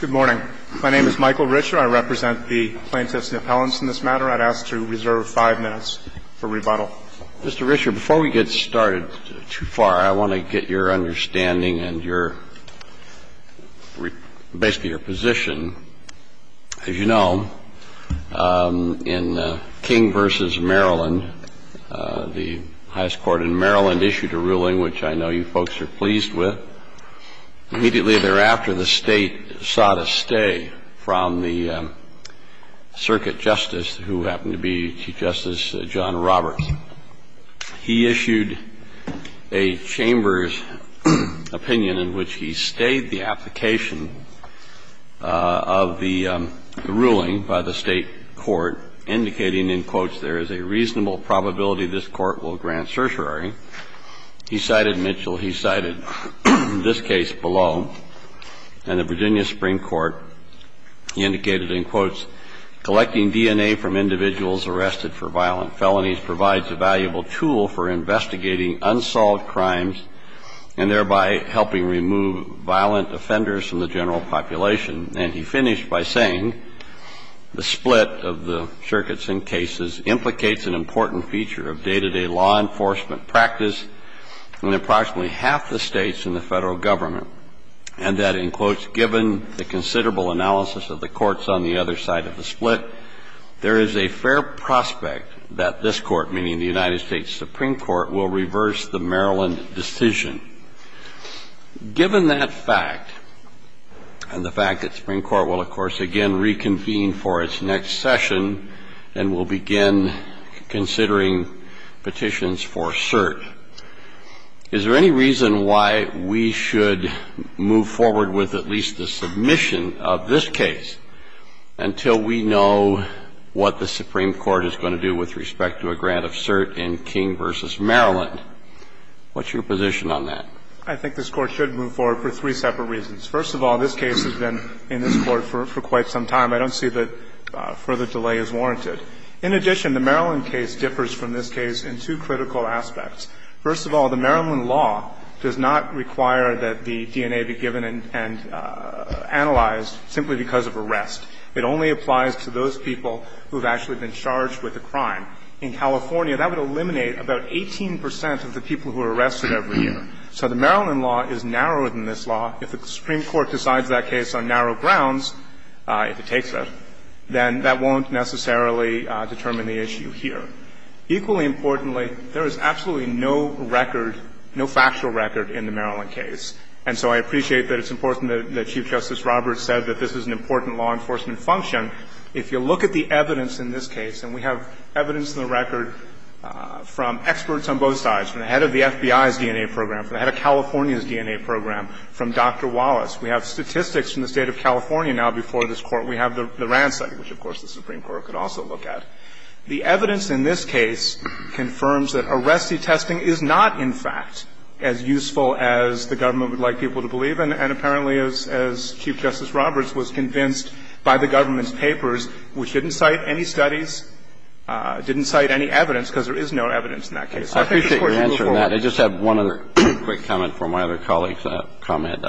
Good morning. My name is Michael Richer. I represent the plaintiffs' appellants in this matter. I'd ask to reserve five minutes for rebuttal. Mr. Richer, before we get started too far, I want to get your understanding and your – basically your position. As you know, in King v. Maryland, the highest court in Maryland issued a ruling which I know you folks are pleased with. Immediately thereafter, the State sought a stay from the circuit justice, who happened to be Chief Justice John Roberts. He issued a chamber's opinion in which he stayed the application of the ruling by the State court, indicating, in quotes, there is a reasonable probability this court will grant certiorari. He cited Mitchell. He cited this case below. And the Virginia Supreme Court indicated, in quotes, collecting DNA from individuals arrested for violent felonies provides a valuable tool for investigating unsolved crimes and thereby helping remove violent offenders from the general population. And he finished by saying the split of the circuits in cases implicates an important feature of day-to-day law enforcement practice in approximately half the States in the Federal Government, and that, in quotes, given the considerable analysis of the courts on the other side of the split, there is a fair prospect that this court, meaning the United States Supreme Court, will reverse the Maryland decision. Given that fact, and the fact that the Supreme Court will, of course, again reconvene for its next session and will begin considering petitions for cert, is there any reason why we should move forward with at least a submission of this case until we know what the Supreme Court is going to do with respect to a grant of cert in King v. Maryland? What's your position on that? I think this Court should move forward for three separate reasons. First of all, this case has been in this Court for quite some time. I don't see that further delay is warranted. In addition, the Maryland case differs from this case in two critical aspects. First of all, the Maryland law does not require that the DNA be given and analyzed simply because of arrest. It only applies to those people who have actually been charged with a crime. In California, that would eliminate about 18 percent of the people who are arrested every year. So the Maryland law is narrower than this law. If the Supreme Court decides that case on narrow grounds, if it takes it, then that won't necessarily determine the issue here. Equally importantly, there is absolutely no record, no factual record in the Maryland case. And so I appreciate that it's important that Chief Justice Roberts said that this is an important law enforcement function. If you look at the evidence in this case, and we have evidence in the record from experts on both sides, from the head of the FBI's DNA program, from the head of California's DNA program, from Dr. Wallace. We have statistics from the State of California now before this Court. We have the RAND study, which, of course, the Supreme Court could also look at. The evidence in this case confirms that arrestee testing is not, in fact, as useful as the government would like people to believe. And apparently, as Chief Justice Roberts was convinced by the government's papers, which didn't cite any studies, didn't cite any evidence, because there is no evidence in that case. I appreciate your answer on that. I just have one other quick comment from my other colleague's comment.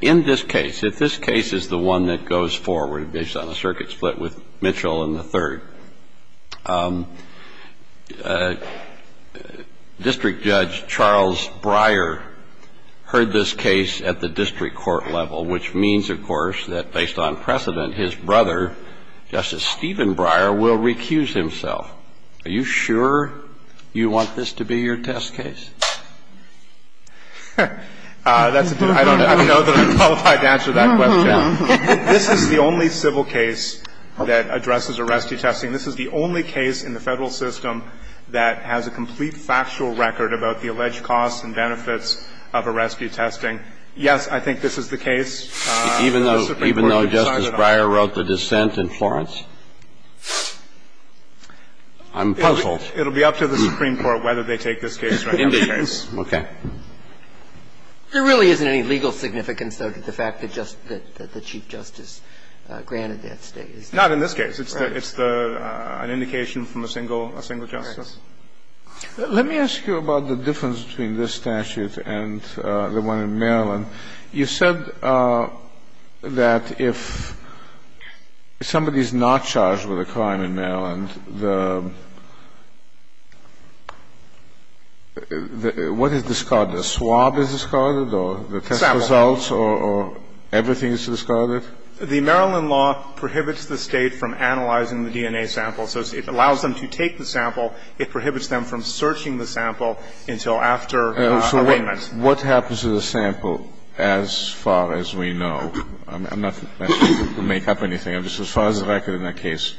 In this case, if this case is the one that goes forward, based on the circuit split with Mitchell and the third, District Judge Charles Breyer heard this case at the district court level, which means, of course, that based on precedent, his brother, Justice Stephen Breyer, will recuse himself. Are you sure you want this to be your test case? I don't know that I'm qualified to answer that question. This is the only civil case that addresses arrestee testing. This is the only case in the Federal system that has a complete factual record about the alleged costs and benefits of arrestee testing. Yes, I think this is the case. Even though Justice Breyer wrote the dissent in Florence? I'm puzzled. It will be up to the Supreme Court whether they take this case or any other case. Indeed. Okay. There really isn't any legal significance, though, to the fact that the Chief Justice granted that statement. Not in this case. Right. It's an indication from a single justice. Let me ask you about the difference between this statute and the one in Maryland. You said that if somebody is not charged with a crime in Maryland, the what is discarded? A swab is discarded or the test results or everything is discarded? The Maryland law prohibits the State from analyzing the DNA sample. So it allows them to take the sample. It prohibits them from searching the sample until after arraignment. So what happens to the sample as far as we know? I'm not asking you to make up anything. I'm just as far as the record in that case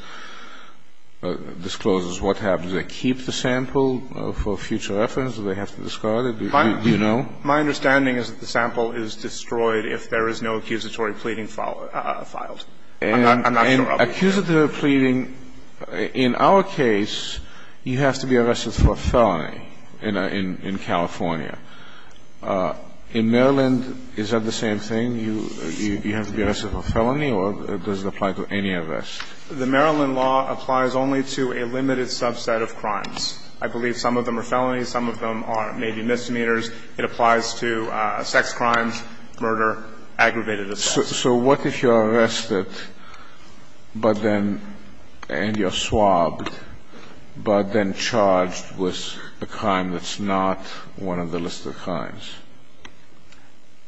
discloses what happens. Do they keep the sample for future reference? Do they have to discard it? Do you know? My understanding is that the sample is destroyed if there is no accusatory pleading filed. I'm not sure. Accusatory pleading, in our case, you have to be arrested for a felony in California. In Maryland, is that the same thing? You have to be arrested for a felony or does it apply to any arrest? The Maryland law applies only to a limited subset of crimes. I believe some of them are felonies, some of them are maybe misdemeanors. It applies to sex crimes, murder, aggravated assault. So what if you're arrested, but then you're swabbed, but then charged with a crime that's not one of the listed crimes?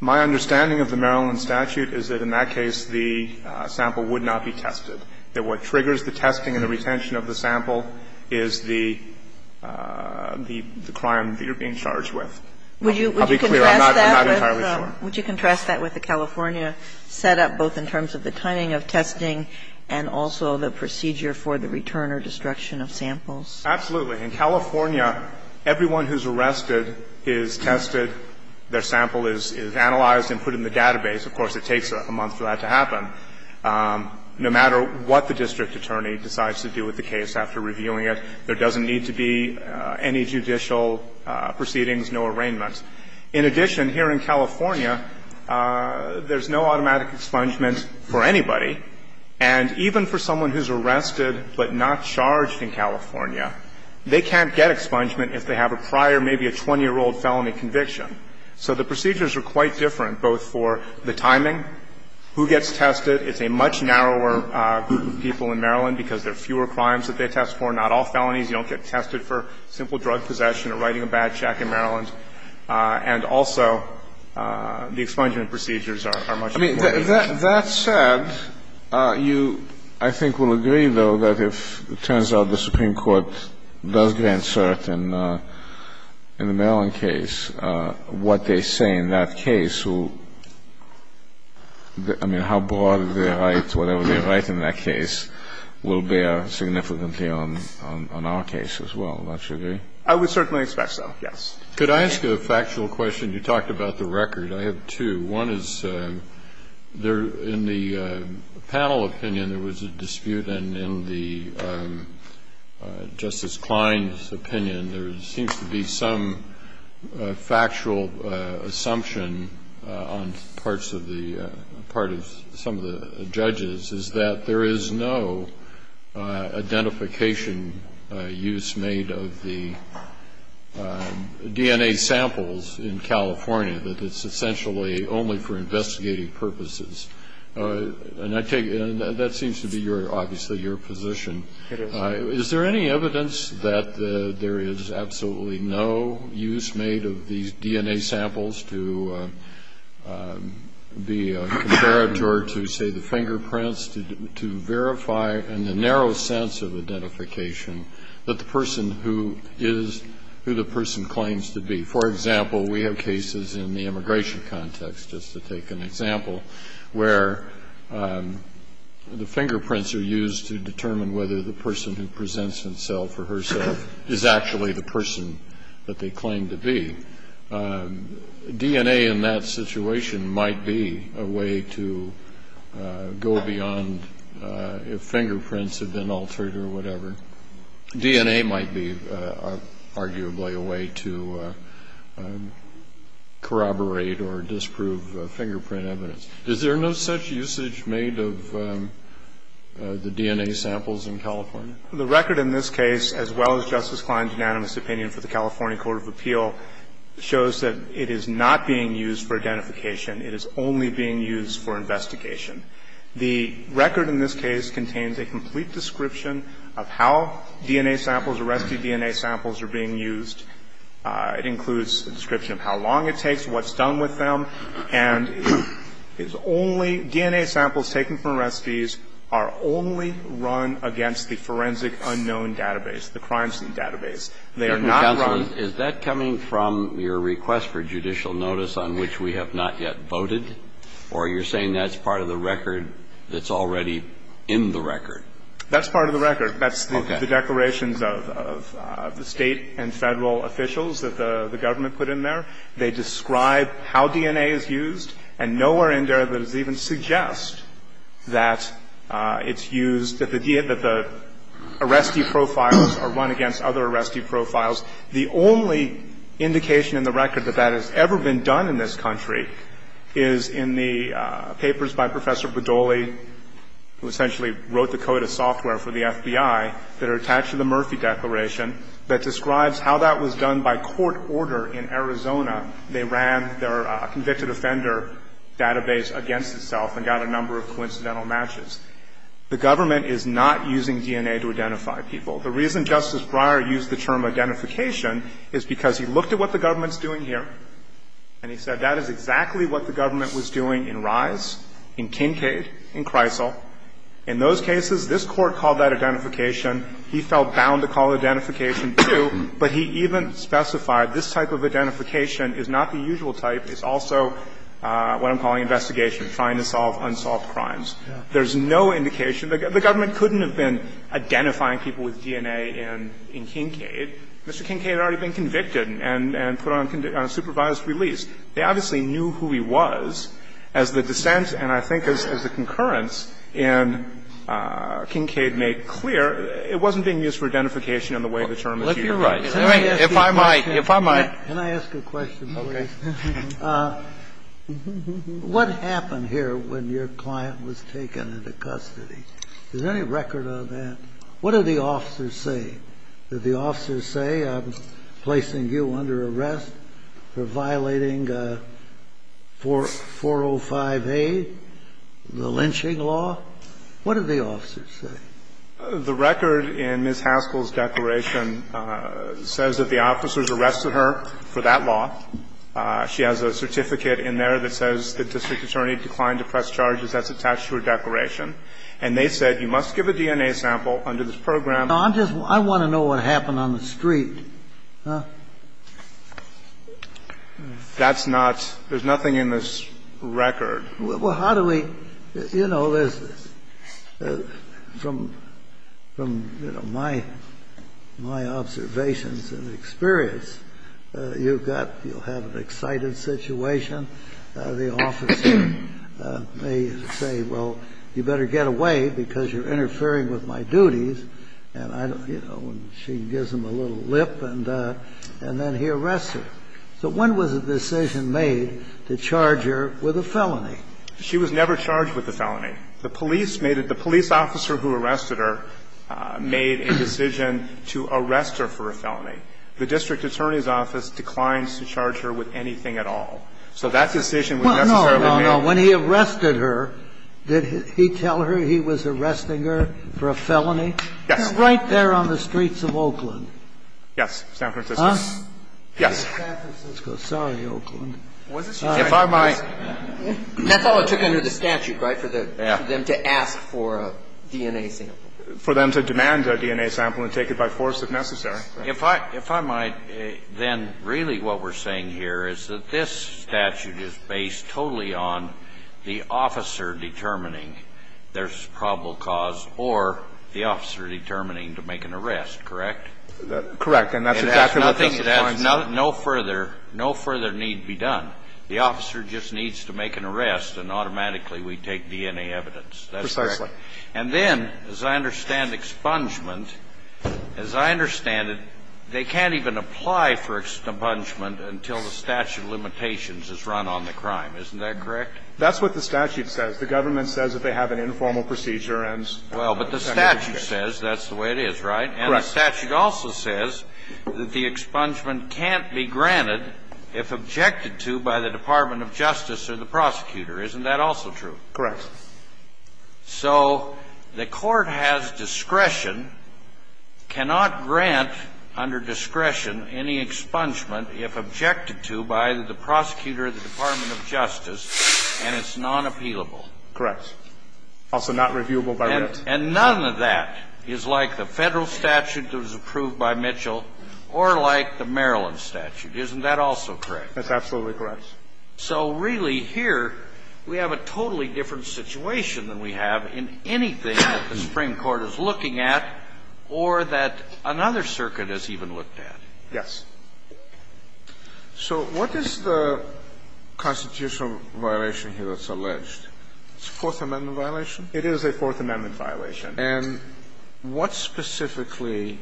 My understanding of the Maryland statute is that in that case the sample would not be tested. That what triggers the testing and the retention of the sample is the crime that you're being charged with. I'll be clear. I'm not entirely sure. Would you contrast that with the California setup, both in terms of the timing of testing and also the procedure for the return or destruction of samples? Absolutely. In California, everyone who's arrested is tested. Their sample is analyzed and put in the database. Of course, it takes a month for that to happen. No matter what the district attorney decides to do with the case after reviewing it, there doesn't need to be any judicial proceedings, no arraignments. In addition, here in California, there's no automatic expungement for anybody. And even for someone who's arrested but not charged in California, they can't get expungement if they have a prior, maybe a 20-year-old felony conviction. So the procedures are quite different, both for the timing, who gets tested. It's a much narrower group of people in Maryland because there are fewer crimes that they test for, not all felonies. You don't get tested for simple drug possession or writing a bad check in Maryland. And also, the expungement procedures are much more. I mean, that said, you, I think, will agree, though, that if it turns out the Supreme Court does grant cert in the Maryland case, what they say in that case will – I mean, how broad their right, whatever their right in that case, will bear significantly on our case as well. Don't you agree? I would certainly expect so, yes. Could I ask you a factual question? You talked about the record. I have two. One is, in the panel opinion, there was a dispute, and in the Justice Klein's opinion, there seems to be some factual assumption on parts of the – part of some of the judges is that there is no identification use made of the DNA samples in California, that it's essentially only for investigating purposes. And I take – that seems to be your – obviously your position. It is. Is there any evidence that there is absolutely no use made of these DNA samples to be compared to or to, say, the fingerprints, to verify in the narrow sense of identification that the person who is who the person claims to be? For example, we have cases in the immigration context, just to take an example, where the fingerprints are used to determine whether the person who presents himself or herself is actually the person that they claim to be. DNA in that situation might be a way to go beyond if fingerprints have been altered or whatever. DNA might be, arguably, a way to corroborate or disprove fingerprint evidence. Is there no such usage made of the DNA samples in California? The record in this case, as well as Justice Klein's unanimous opinion for the California Court of Appeal, shows that it is not being used for identification. It is only being used for investigation. The record in this case contains a complete description of how DNA samples, arrestee DNA samples are being used. It includes a description of how long it takes, what's done with them. And it's only – DNA samples taken from arrestees are only run against the forensic unknown database, the crime scene database. They are not run – Justice Breyer, is that coming from your request for judicial notice on which we have not yet voted? Or you're saying that's part of the record that's already in the record? That's part of the record. That's the declarations of the State and Federal officials that the government put in there. They describe how DNA is used, and nowhere in there does it even suggest that it's The only indication in the record that that has ever been done in this country is in the papers by Professor Badoli, who essentially wrote the code of software for the FBI, that are attached to the Murphy Declaration, that describes how that was done by court order in Arizona. They ran their convicted offender database against itself and got a number of coincidental matches. The government is not using DNA to identify people. The reason Justice Breyer used the term identification is because he looked at what the government's doing here, and he said that is exactly what the government was doing in Rise, in Kincade, in Kreisel. In those cases, this Court called that identification. He felt bound to call identification, too, but he even specified this type of identification is not the usual type. It's also what I'm calling investigation, trying to solve unsolved crimes. There's no indication. The government couldn't have been identifying people with DNA in Kincade. Mr. Kincade had already been convicted and put on supervised release. They obviously knew who he was as the dissent, and I think as the concurrence in Kincade made clear, it wasn't being used for identification in the way the term was used. Kennedy, if I might, if I might. Can I ask a question, please? Okay. What happened here when your client was taken into custody? Is there any record of that? What did the officers say? Did the officers say, I'm placing you under arrest for violating 405A, the lynching law? What did the officers say? The record in Ms. Haskell's declaration says that the officers arrested her for that law. She has a certificate in there that says the district attorney declined to press charges. That's attached to her declaration. And they said, you must give a DNA sample under this program. No, I'm just, I want to know what happened on the street. That's not, there's nothing in this record. Well, how do we, you know, there's, from, you know, my observations and experience, you've got, you'll have an excited situation. The officer may say, well, you better get away because you're interfering with my duties. And I don't, you know, she gives him a little lip and then he arrests her. So when was the decision made to charge her with a felony? She was never charged with a felony. The police made it, the police officer who arrested her made a decision to arrest her for a felony. The district attorney's office declines to charge her with anything at all. So that decision was necessarily made. No, no, no. When he arrested her, did he tell her he was arresting her for a felony? Yes. Right there on the streets of Oakland. Yes, San Francisco. Huh? Yes. San Francisco. Sorry, Oakland. If I might. That's all it took under the statute, right, for them to ask for a DNA sample? For them to demand a DNA sample and take it by force if necessary. If I might, then really what we're saying here is that this statute is based totally on the officer determining there's probable cause or the officer determining to make an arrest, correct? Correct. And that's exactly what this appointment is. It has nothing, it has no further, no further need be done. The officer just needs to make an arrest and automatically we take DNA evidence. That's correct. Precisely. And then, as I understand expungement, as I understand it, they can't even apply for expungement until the statute of limitations is run on the crime. Isn't that correct? That's what the statute says. The government says if they have an informal procedure and it's under the statute. Well, but the statute says that's the way it is, right? Correct. But the statute also says that the expungement can't be granted if objected to by the Department of Justice or the prosecutor. Isn't that also true? Correct. So the Court has discretion, cannot grant under discretion any expungement if objected to by the prosecutor or the Department of Justice, and it's non-appealable. Correct. Also not reviewable by ribs. And none of that is like the Federal statute that was approved by Mitchell or like the Maryland statute. Isn't that also correct? That's absolutely correct. So really here we have a totally different situation than we have in anything that the Supreme Court is looking at or that another circuit has even looked at. Yes. So what is the constitutional violation here that's alleged? It's a Fourth Amendment violation? It is a Fourth Amendment violation. And what specifically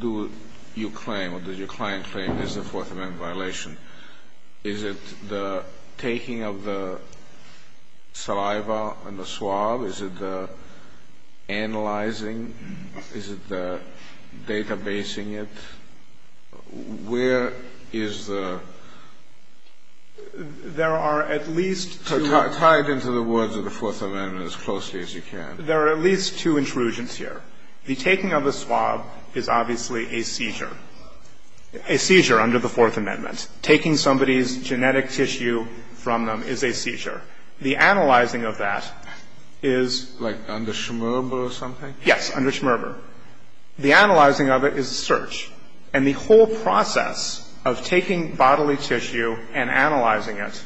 do you claim or does your client claim is a Fourth Amendment violation? Is it the taking of the saliva and the swab? Is it the analyzing? Is it the databasing it? Where is the? There are at least two. Tie it into the words of the Fourth Amendment as closely as you can. There are at least two intrusions here. The taking of the swab is obviously a seizure, a seizure under the Fourth Amendment. Taking somebody's genetic tissue from them is a seizure. The analyzing of that is. Like under Schmerber or something? Yes, under Schmerber. The analyzing of it is a search. And the whole process of taking bodily tissue and analyzing it.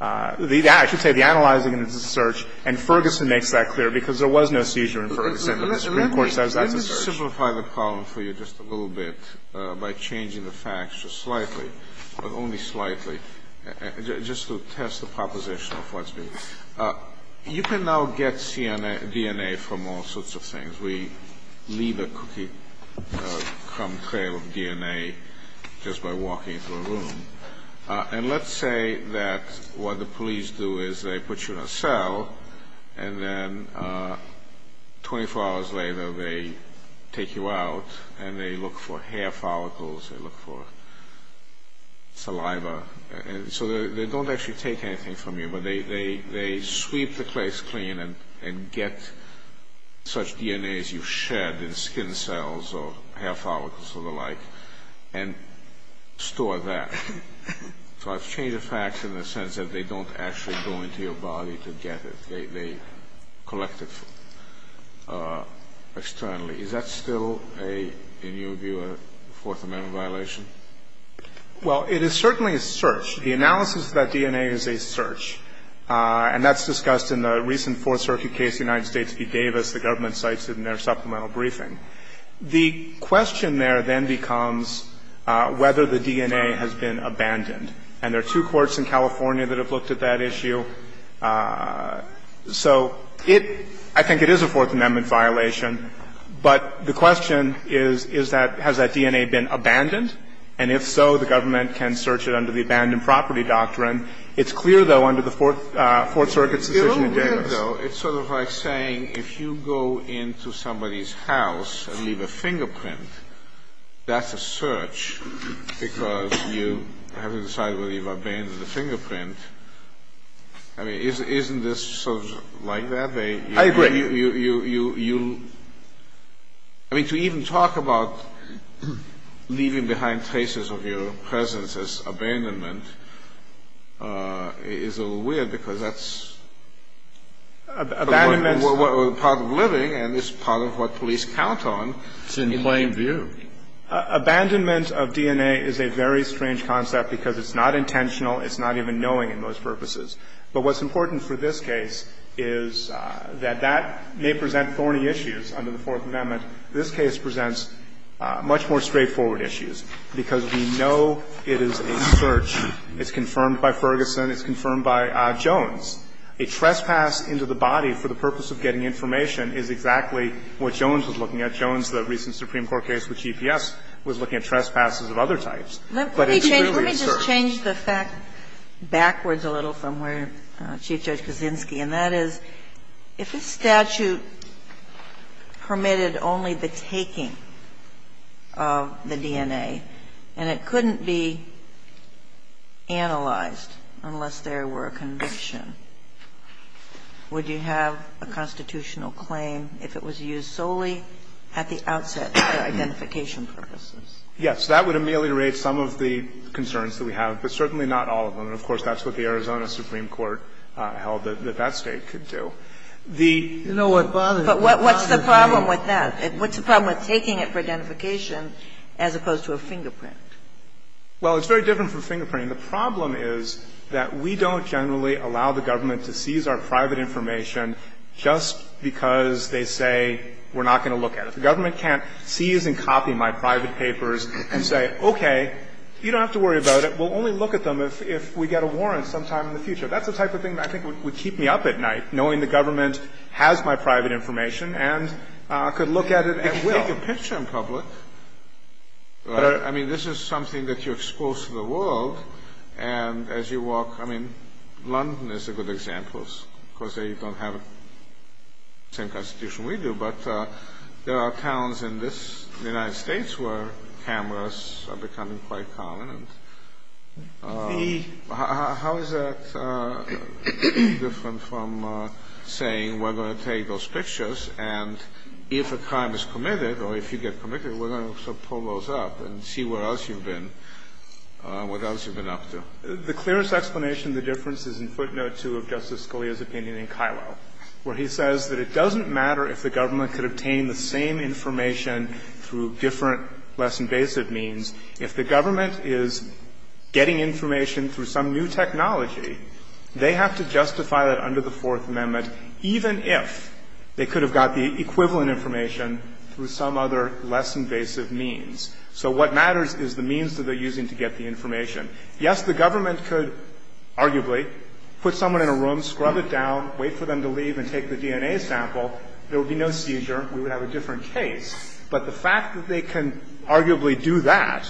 I should say the analyzing it is a search. And Ferguson makes that clear because there was no seizure in Ferguson, but the Supreme Court says that's a search. Let me simplify the problem for you just a little bit by changing the facts just slightly, but only slightly, just to test the proposition of what's being said. You can now get DNA from all sorts of things. We leave a cookie-crumb trail of DNA just by walking into a room. And let's say that what the police do is they put you in a cell and then 24 hours later they take you out and they look for hair follicles, they look for saliva. So they don't actually take anything from you, but they sweep the place clean and get such DNA as you shed in skin cells or hair follicles or the like and store that. So I've changed the facts in the sense that they don't actually go into your body to get it. They collect it externally. Is that still a, in your view, a Fourth Amendment violation? Well, it is certainly a search. The analysis of that DNA is a search. And that's discussed in the recent Fourth Circuit case of the United States v. Davis. The government cites it in their supplemental briefing. The question there then becomes whether the DNA has been abandoned. And there are two courts in California that have looked at that issue. So it, I think it is a Fourth Amendment violation. But the question is, is that, has that DNA been abandoned? And if so, the government can search it under the abandoned property doctrine. It's clear, though, under the Fourth Circuit's decision in Davis. It's sort of like saying if you go into somebody's house and leave a fingerprint, that's a search because you haven't decided whether you've abandoned the fingerprint. I mean, isn't this sort of like that? I agree. You, I mean, to even talk about leaving behind traces of your presence as abandonment, is a little weird because that's part of living and it's part of what police count on. It's in plain view. Abandonment of DNA is a very strange concept because it's not intentional. It's not even knowing in most purposes. But what's important for this case is that that may present thorny issues under the Fourth Amendment. This case presents much more straightforward issues because we know it is a search case, it's confirmed by Ferguson, it's confirmed by Jones. A trespass into the body for the purpose of getting information is exactly what Jones was looking at. Jones, the recent Supreme Court case with GPS, was looking at trespasses of other types. But it's really a search. Let me just change the fact backwards a little from where Chief Judge Kaczynski and that is, if this statute permitted only the taking of the DNA and it couldn't be analyzed unless there were a conviction, would you have a constitutional claim if it was used solely at the outset for identification purposes? Yes. That would ameliorate some of the concerns that we have, but certainly not all of them. And, of course, that's what the Arizona Supreme Court held that that State could do. The ---- But what's the problem with that? What's the problem with taking it for identification as opposed to a fingerprint? Well, it's very different from fingerprinting. The problem is that we don't generally allow the government to seize our private information just because they say we're not going to look at it. The government can't seize and copy my private papers and say, okay, you don't have to worry about it. We'll only look at them if we get a warrant sometime in the future. That's the type of thing that I think would keep me up at night, knowing the government has my private information and could look at it at will. You can't take a picture in public. I mean, this is something that you're exposed to the world. And as you walk ---- I mean, London is a good example, because they don't have the same constitution we do. But there are towns in this ---- in the United States where cameras are becoming quite common. How is that different from saying we're going to take those pictures, and if a crime is committed, or if you get committed, we're going to sort of pull those up and see where else you've been, what else you've been up to? The clearest explanation of the difference is in footnote 2 of Justice Scalia's opinion in Kilo, where he says that it doesn't matter if the government could obtain the same information through different, less invasive means. If the government is getting information through some new technology, they have to justify that under the Fourth Amendment even if they could have got the equivalent information through some other less invasive means. So what matters is the means that they're using to get the information. Yes, the government could arguably put someone in a room, scrub it down, wait for them to leave and take the DNA sample. There would be no seizure. We would have a different case. But the fact that they can arguably do that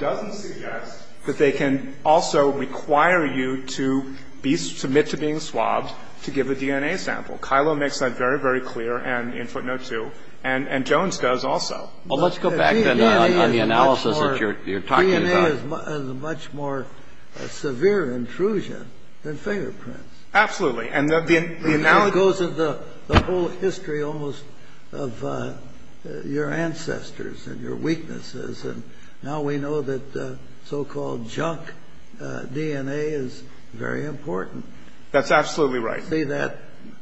doesn't suggest that they can also require you to be ---- submit to being swabbed to give a DNA sample. Kilo makes that very, very clear and in footnote 2, and Jones does also. Well, let's go back then on the analysis that you're talking about. DNA is a much more severe intrusion than fingerprints. Absolutely. And the analogy goes to the whole history almost of your ancestors and your weaknesses. And now we know that so-called junk DNA is very important. That's absolutely right. I don't see that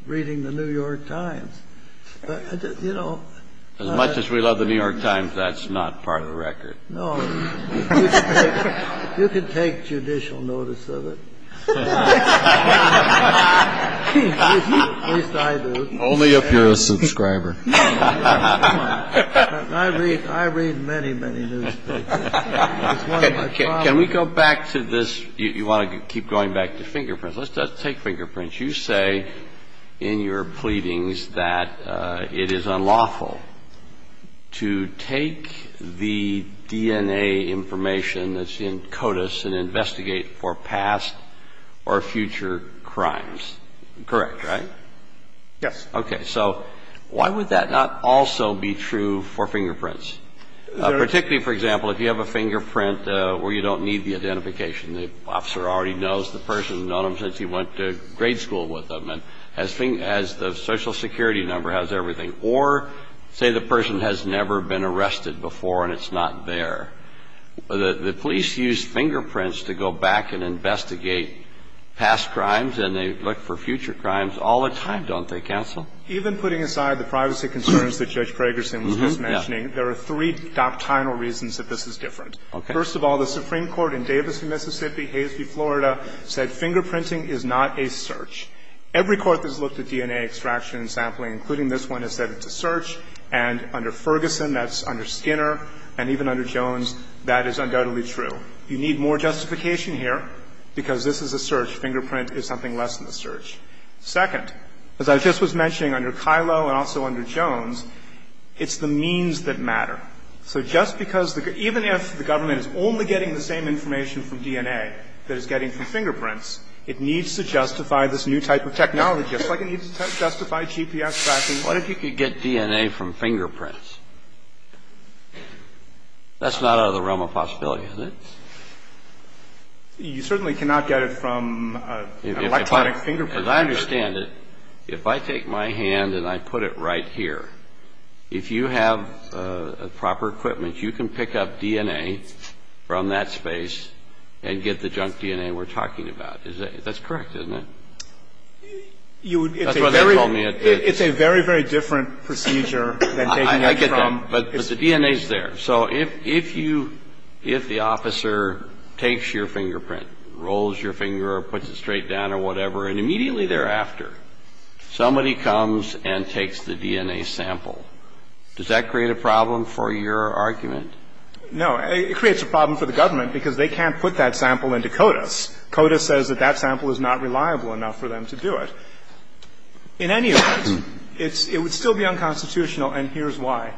reading the New York Times. As much as we love the New York Times, that's not part of the record. No. You can take judicial notice of it. At least I do. Only if you're a subscriber. I read many, many newspapers. Can we go back to this? You want to keep going back to fingerprints. Let's take fingerprints. You say in your pleadings that it is unlawful to take the DNA information that's in CODIS and investigate for past or future crimes. Correct, right? Yes. Okay. So why would that not also be true for fingerprints? Particularly, for example, if you have a fingerprint where you don't need the identification and the officer already knows the person, has known them since he went to grade school with them, and has the social security number, has everything. Or say the person has never been arrested before and it's not there. The police use fingerprints to go back and investigate past crimes, and they look for future crimes all the time, don't they, counsel? Even putting aside the privacy concerns that Judge Pragerson was just mentioning, there are three doctrinal reasons that this is different. Okay. First of all, the Supreme Court in Davis, Mississippi, Hays v. Florida, said fingerprinting is not a search. Every court that's looked at DNA extraction and sampling, including this one, has said it's a search. And under Ferguson, that's under Skinner, and even under Jones, that is undoubtedly true. You need more justification here because this is a search. Fingerprint is something less than a search. Second, as I just was mentioning, under Kylo and also under Jones, it's the means that matter. So just because the – even if the government is only getting the same information from DNA that it's getting from fingerprints, it needs to justify this new type of technology, just like it needs to justify GPS tracking. What if you could get DNA from fingerprints? That's not out of the realm of possibility, is it? You certainly cannot get it from an electronic fingerprint. As I understand it, if I take my hand and I put it right here, if you have a fingerprint with proper equipment, you can pick up DNA from that space and get the junk DNA we're talking about. That's correct, isn't it? That's what they told me it is. It's a very, very different procedure than taking it from – I get that. But the DNA is there. So if you – if the officer takes your fingerprint, rolls your finger or puts it straight down or whatever, and immediately thereafter, somebody comes and takes the DNA sample, does that create a problem for your argument? No. It creates a problem for the government because they can't put that sample into CODIS. CODIS says that that sample is not reliable enough for them to do it. In any event, it's – it would still be unconstitutional, and here's why.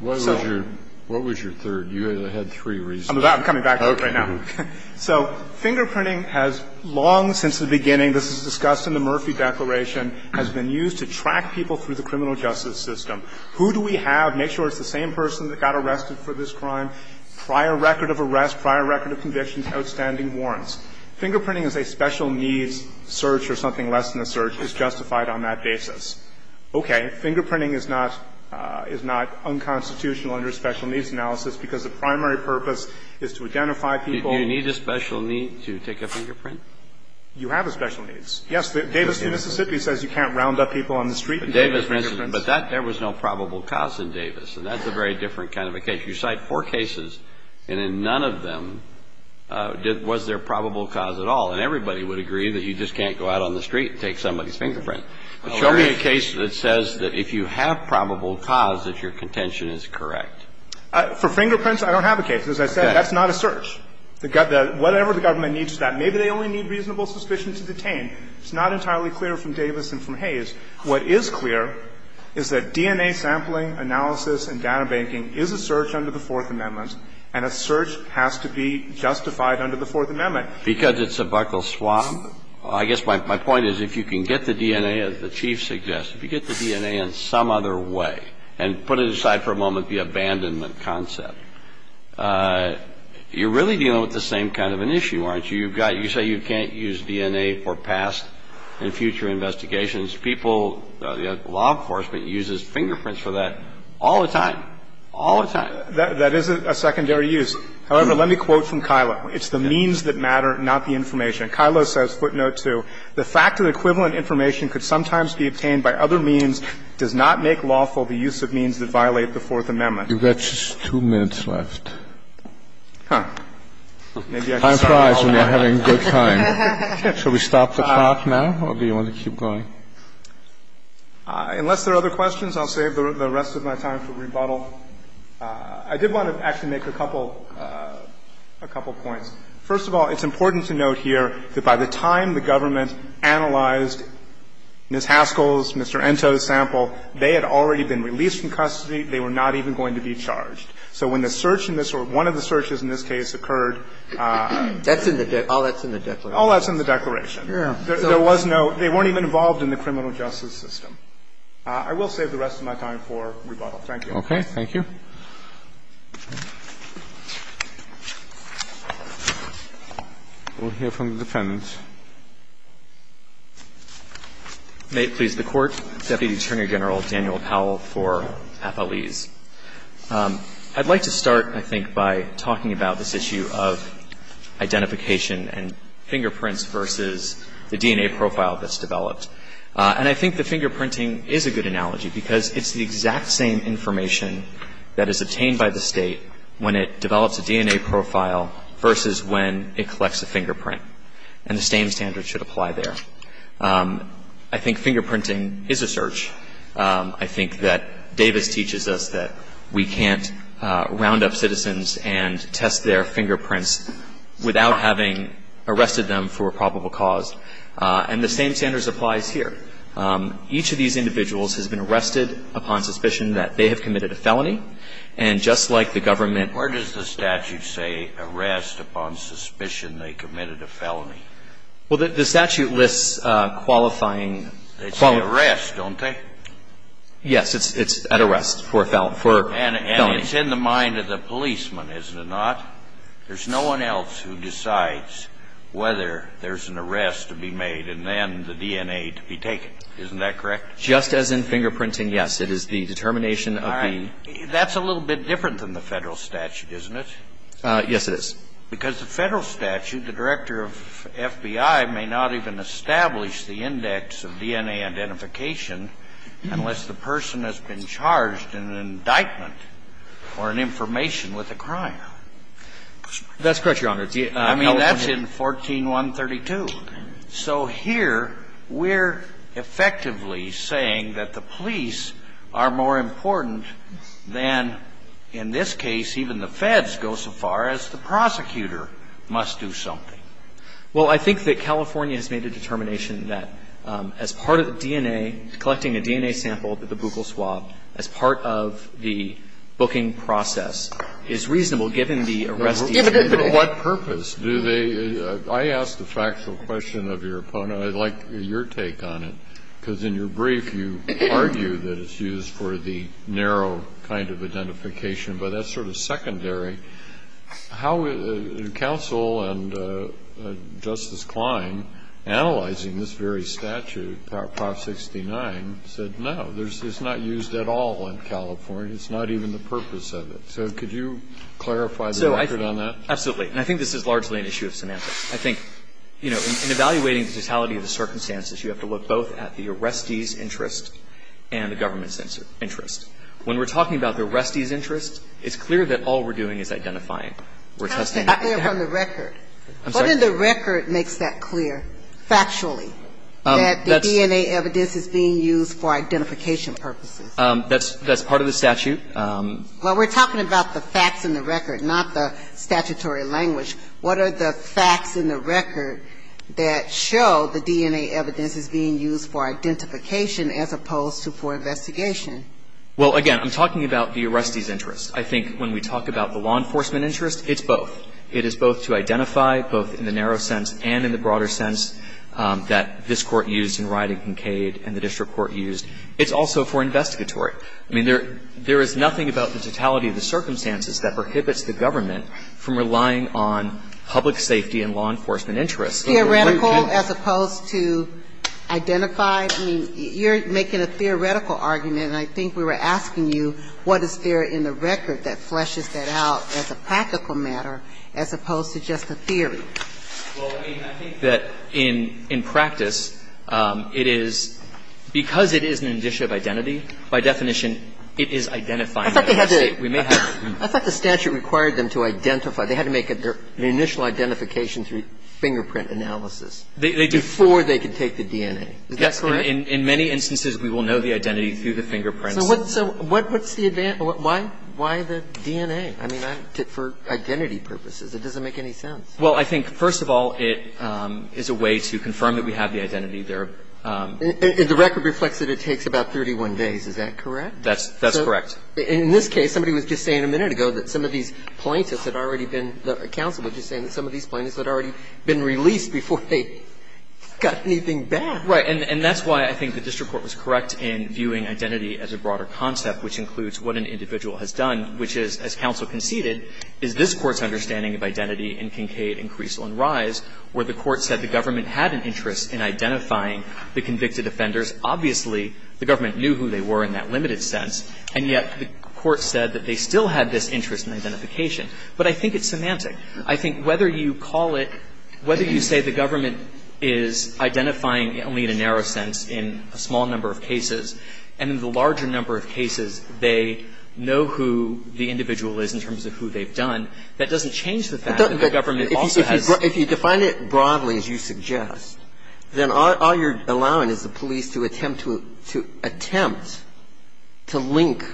So – What was your – what was your third? You had three reasons. I'm about – I'm coming back to it right now. Okay. So fingerprinting has long since the beginning – this is discussed in the Murphy Declaration – has been used to track people through the criminal justice system. Who do we have? Make sure it's the same person that got arrested for this crime. Prior record of arrest, prior record of conviction, outstanding warrants. Fingerprinting as a special needs search or something less than a search is justified on that basis. Okay. Fingerprinting is not – is not unconstitutional under special needs analysis because the primary purpose is to identify people. Do you need a special need to take a fingerprint? You have a special needs. Yes. Davis, Mississippi, says you can't round up people on the street with fingerprints. But that – there was no probable cause in Davis, and that's a very different kind of a case. You cite four cases, and in none of them did – was there probable cause at all. And everybody would agree that you just can't go out on the street and take somebody's fingerprint. But show me a case that says that if you have probable cause, that your contention is correct. For fingerprints, I don't have a case. As I said, that's not a search. Whatever the government needs to that, maybe they only need reasonable suspicion to detain. It's not entirely clear from Davis and from Hayes. What is clear is that DNA sampling, analysis, and data banking is a search under the Fourth Amendment, and a search has to be justified under the Fourth Amendment. Because it's a buckleswap. I guess my point is if you can get the DNA, as the Chief suggests, if you get the DNA in some other way, and put it aside for a moment, the abandonment concept, you're really dealing with the same kind of an issue, aren't you? You've got – you say you can't use DNA for past and future investigations. People – law enforcement uses fingerprints for that all the time. All the time. That is a secondary use. However, let me quote from Kilo. It's the means that matter, not the information. Kilo says, footnote 2, The fact that equivalent information could sometimes be obtained by other means does not make lawful the use of means that violate the Fourth Amendment. You've got just two minutes left. Huh. Maybe I should stop now. Time flies when you're having a good time. Should we stop the clock now, or do you want to keep going? Unless there are other questions, I'll save the rest of my time for rebuttal. I did want to actually make a couple – a couple points. First of all, it's important to note here that by the time the government analyzed Ms. Haskell's, Mr. Ento's sample, they had already been released from custody. They were not even going to be charged. So when the search in this – or one of the searches in this case occurred That's in the – all that's in the declaration. All that's in the declaration. Yeah. There was no – they weren't even involved in the criminal justice system. I will save the rest of my time for rebuttal. Thank you. Okay. Thank you. We'll hear from the defendants. May it please the Court. Deputy Attorney General Daniel Powell for Appalese. I'd like to start, I think, by talking about this issue of identification and fingerprints versus the DNA profile that's developed. And I think the fingerprinting is a good analogy because it's the exact same information that is obtained by the State when it develops a DNA profile versus when it collects a fingerprint. And the same standard should apply there. I think fingerprinting is a search. I think that Davis teaches us that we can't round up citizens and test their fingerprints without having arrested them for a probable cause. And the same standards applies here. Each of these individuals has been arrested upon suspicion that they have committed a felony. And just like the government – Where does the statute say arrest upon suspicion they committed a felony? Well, the statute lists qualifying – It's an arrest, don't they? Yes. It's at arrest for a felony. And it's in the mind of the policeman, isn't it not? There's no one else who decides whether there's an arrest to be made and then the DNA to be taken. Isn't that correct? Just as in fingerprinting, yes. It is the determination of the – All right. That's a little bit different than the Federal statute, isn't it? Yes, it is. Because the Federal statute, the director of FBI may not even establish the index of DNA identification unless the person has been charged in an indictment or an information with a crime. That's correct, Your Honor. I mean, that's in 14132. So here we're effectively saying that the police are more important than, in this case, even the feds go so far as the prosecutor must do something. Well, I think that California has made a determination that as part of the DNA, collecting a DNA sample at the buccal swab as part of the booking process is reasonable given the arrest. But what purpose do they – I ask the factual question of your opponent. I'd like your take on it, because in your brief, you argue that it's used for the narrow kind of identification. But that's sort of secondary. How would counsel and Justice Klein, analyzing this very statute, Prop 69, say that no, it's not used at all in California? It's not even the purpose of it. So could you clarify the record on that? Absolutely. And I think this is largely an issue of semantics. I think, you know, in evaluating the totality of the circumstances, you have to look both at the arrestee's interest and the government's interest. When we're talking about the arrestee's interest, it's clear that all we're doing is identifying. We're testing. I hear from the record. I'm sorry. What in the record makes that clear, factually, that the DNA evidence is being used for identification purposes? That's part of the statute. Well, we're talking about the facts in the record, not the statutory language. What are the facts in the record that show the DNA evidence is being used for identification as opposed to for investigation? Well, again, I'm talking about the arrestee's interest. I think when we talk about the law enforcement interest, it's both. It is both to identify, both in the narrow sense and in the broader sense, that this is not just the DNA evidence that the court used. It's also for investigatory. I mean, there is nothing about the totality of the circumstances that prohibits the government from relying on public safety and law enforcement interests. Theoretical as opposed to identified? I mean, you're making a theoretical argument, and I think we were asking you, what is there in the record that fleshes that out as a practical matter as opposed to just a theory? Well, I mean, I think that in practice, it is, because it is an initiative identity, by definition, it is identifying that arrestee. We may have to. I thought the statute required them to identify. They had to make an initial identification through fingerprint analysis. They did. Before they could take the DNA. Is that correct? In many instances, we will know the identity through the fingerprints. So what's the advantage? Why the DNA? I mean, for identity purposes, it doesn't make any sense. Well, I think, first of all, it is a way to confirm that we have the identity there. And the record reflects that it takes about 31 days. Is that correct? That's correct. In this case, somebody was just saying a minute ago that some of these plaintiffs had already been, the counsel was just saying that some of these plaintiffs had already been released before they got anything back. Right. And that's why I think the district court was correct in viewing identity as a broader concept, which includes what an individual has done, which is, as counsel conceded, is this Court's understanding of identity in Kincaid and Caruso and Rise where the Court said the government had an interest in identifying the convicted offenders. Obviously, the government knew who they were in that limited sense. And yet the Court said that they still had this interest in identification. But I think it's semantic. I think whether you call it, whether you say the government is identifying only in a narrow sense in a small number of cases, and in the larger number of cases, they know who the individual is in terms of who they've done, that doesn't change the fact that the government also has. If you define it broadly, as you suggest, then all you're allowing is the police to attempt to attempt to link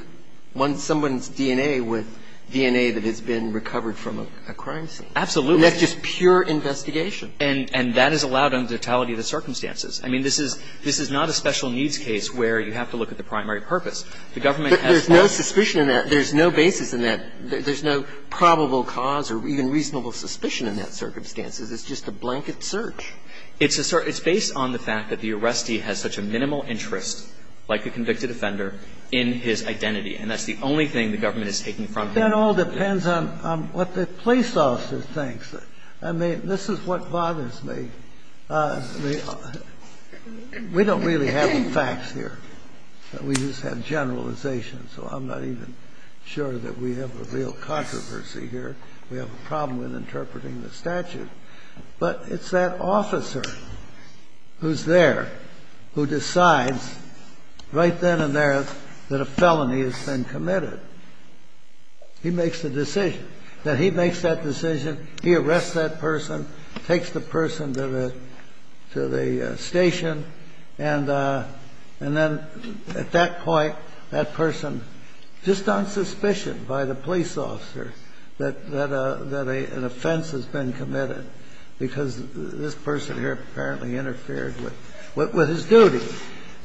someone's DNA with DNA that has been recovered from a crime scene. Absolutely. And that's just pure investigation. And that is allowed under the totality of the circumstances. I mean, this is not a special needs case where you have to look at the primary purpose. The government has not. But there's no suspicion in that. There's no basis in that. There's no probable cause or even reasonable suspicion in that circumstances. It's just a blanket search. It's a search. It's based on the fact that the arrestee has such a minimal interest, like the convicted offender, in his identity. And that's the only thing the government is taking from him. That all depends on what the police officer thinks. I mean, this is what bothers me. We don't really have the facts here. We just have generalizations. So I'm not even sure that we have a real controversy here. We have a problem with interpreting the statute. But it's that officer who's there who decides right then and there that a felony has been committed. He makes the decision. He arrests that person, takes the person to the station. And then at that point, that person, just on suspicion by the police officer, that an offense has been committed because this person here apparently interfered with his duty.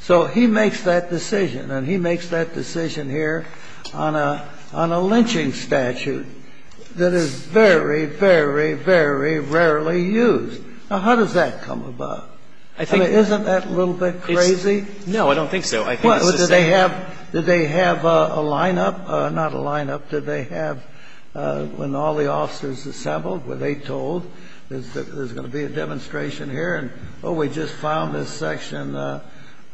So he makes that decision. And he makes that decision here on a lynching statute that is very, very, very rarely used. Now, how does that come about? I mean, isn't that a little bit crazy? No, I don't think so. I think it's the same. Did they have a lineup? Not a lineup. Did they have, when all the officers assembled, were they told there's going to be a demonstration here and, oh, we just found this section